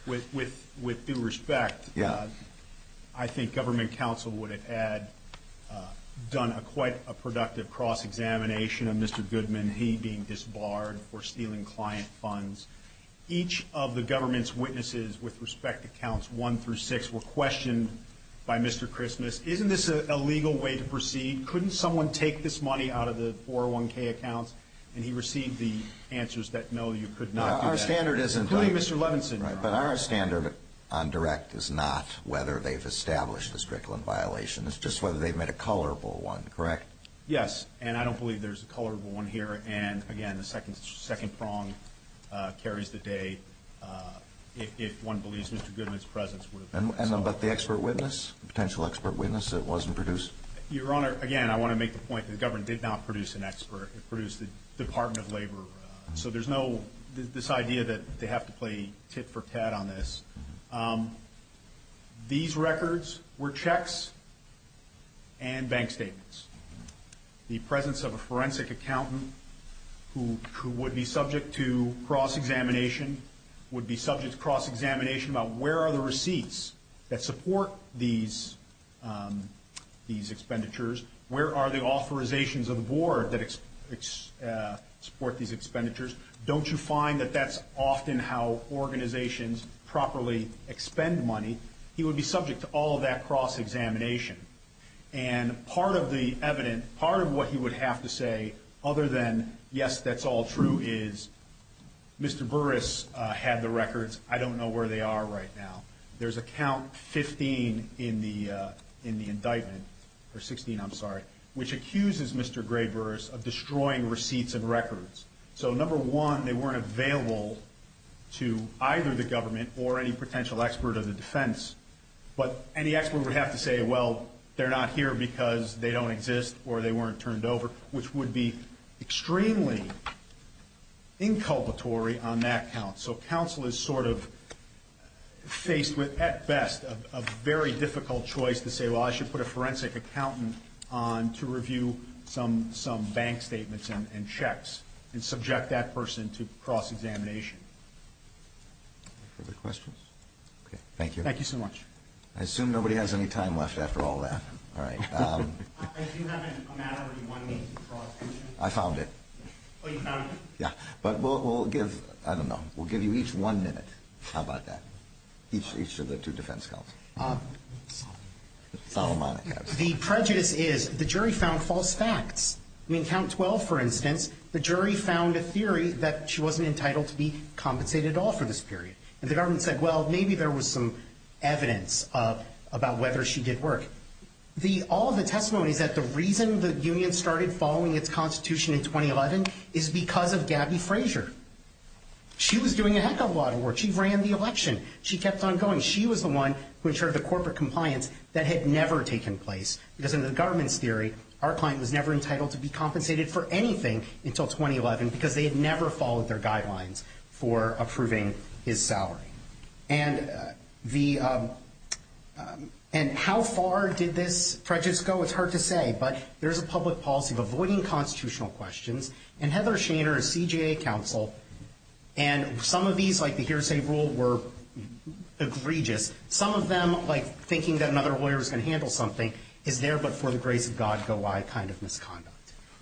With due respect, I think government counsel would have had done quite a productive cross-examination of Mr. Goodman, he being disbarred for stealing client funds. Each of the government's witnesses with respect to counts one through six were questioned by Mr. Christmas. Isn't this a legal way to proceed? Couldn't someone take this money out of the 401k accounts? And he received the answers that no, you could not do that, including Mr. Levinson. Right, but our standard on direct is not whether they've established the strickland violation. It's just whether they've made a colorable one, correct? Yes, and I don't believe there's a colorable one here. And again, the second prong carries the day if one believes Mr. Goodman's presence would have been. But the expert witness, potential expert witness, it wasn't produced? Your Honor, again, I want to make the point that the government did not produce an expert. It produced the Department of Labor. So there's no, this idea that they have to play tit for tat on this. These records were checks and bank statements. The presence of a forensic accountant who would be subject to cross-examination would be subject to cross-examination about where are the receipts that support these expenditures? Where are the authorizations of the board that support these expenditures? Don't you find that that's often how organizations properly expend money? He would be subject to all of that cross-examination. And part of the evidence, part of what he would have to say, other than yes, that's all true, is Mr. Burris had the records. I don't know where they are right now. There's a count 15 in the indictment, or 16, I'm sorry, which accuses Mr. Gray Burris of destroying receipts and records. So number one, they weren't available to either the government or any potential expert of the defense. But any expert would have to say, well, they're not here because they don't exist or they weren't turned over, which would be extremely inculpatory on that count. So counsel is sort of faced with, at best, a very difficult choice to say, well, I should put a forensic accountant on to review some bank statements and checks and subject that person to cross-examination. Further questions? Okay, thank you. Thank you so much. I assume nobody has any time left after all that. All right. I do have a matter where you want me to cross-examine. I found it. Oh, you found it? Yeah, but we'll give, I don't know, we'll give you each one minute. How about that? Each of the two defense counsels. The prejudice is the jury found false facts. I mean, count 12, for instance, the jury found a theory that she wasn't entitled to be compensated at all for this period. And the government said, well, maybe there was some evidence about whether she did work. All of the testimony is that the reason the union started following its constitution in 2011 is because of Gabby Frazier. She was doing a heck of a lot of work. She ran the election. She kept on going. She was the one who ensured the corporate compliance that had never taken place because in the government's theory, our client was never entitled to be compensated for anything until 2011 because they had never followed their guidelines for approving his salary. And how far did this prejudice go? It's hard to say, but there's a public policy of avoiding constitutional questions. And Heather Shaner is CJA counsel. And some of these, like the hearsay rule were egregious. Some of them, like thinking that another lawyer is going to handle something is there but for the grace of God go I kind of misconduct.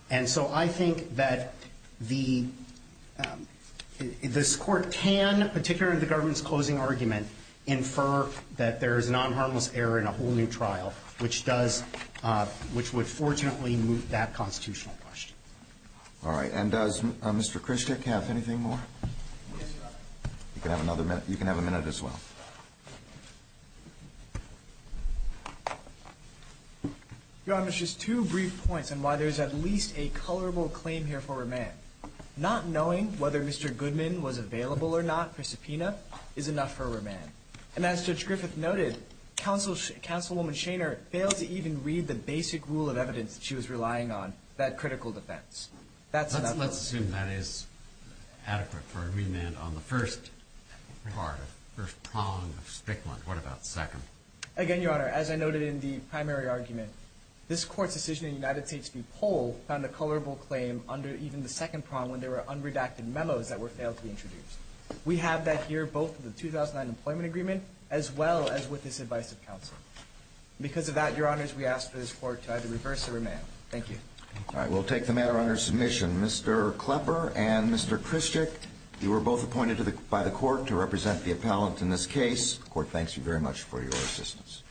And so I think that this court can, particularly in the government's closing argument, infer that there is non-harmless error in a whole new trial, which would fortunately move that constitutional question. All right. And does Mr. Krishnik have anything more? You can have another minute. You can have a minute as well. Your honor, there's just two brief points on why there's at least a colorable claim here for remand. Not knowing whether Mr. Goodman was available or not for subpoena is enough for remand. And as Judge Griffith noted, counsel woman Shaner failed to even read the basic rule of evidence that she was relying on, that critical defense. Let's assume that is adequate for a remand on the first part, first prong of Strickland. What about second? Again, your honor, as I noted in the primary argument, this court's decision in United States v. Pol found a colorable claim under even the second prong when there were unredacted memos that were failed to be introduced. We have that here, both for the 2009 employment agreement, as well as with this advice of counsel. Because of that, your honors, we ask for this court to either reverse or remand. Thank you. All right. We'll take the matter under submission. Mr. Klepper and Mr. Krischick, you were both appointed by the court to represent the appellant in this case. The court thanks you very much for your assistance.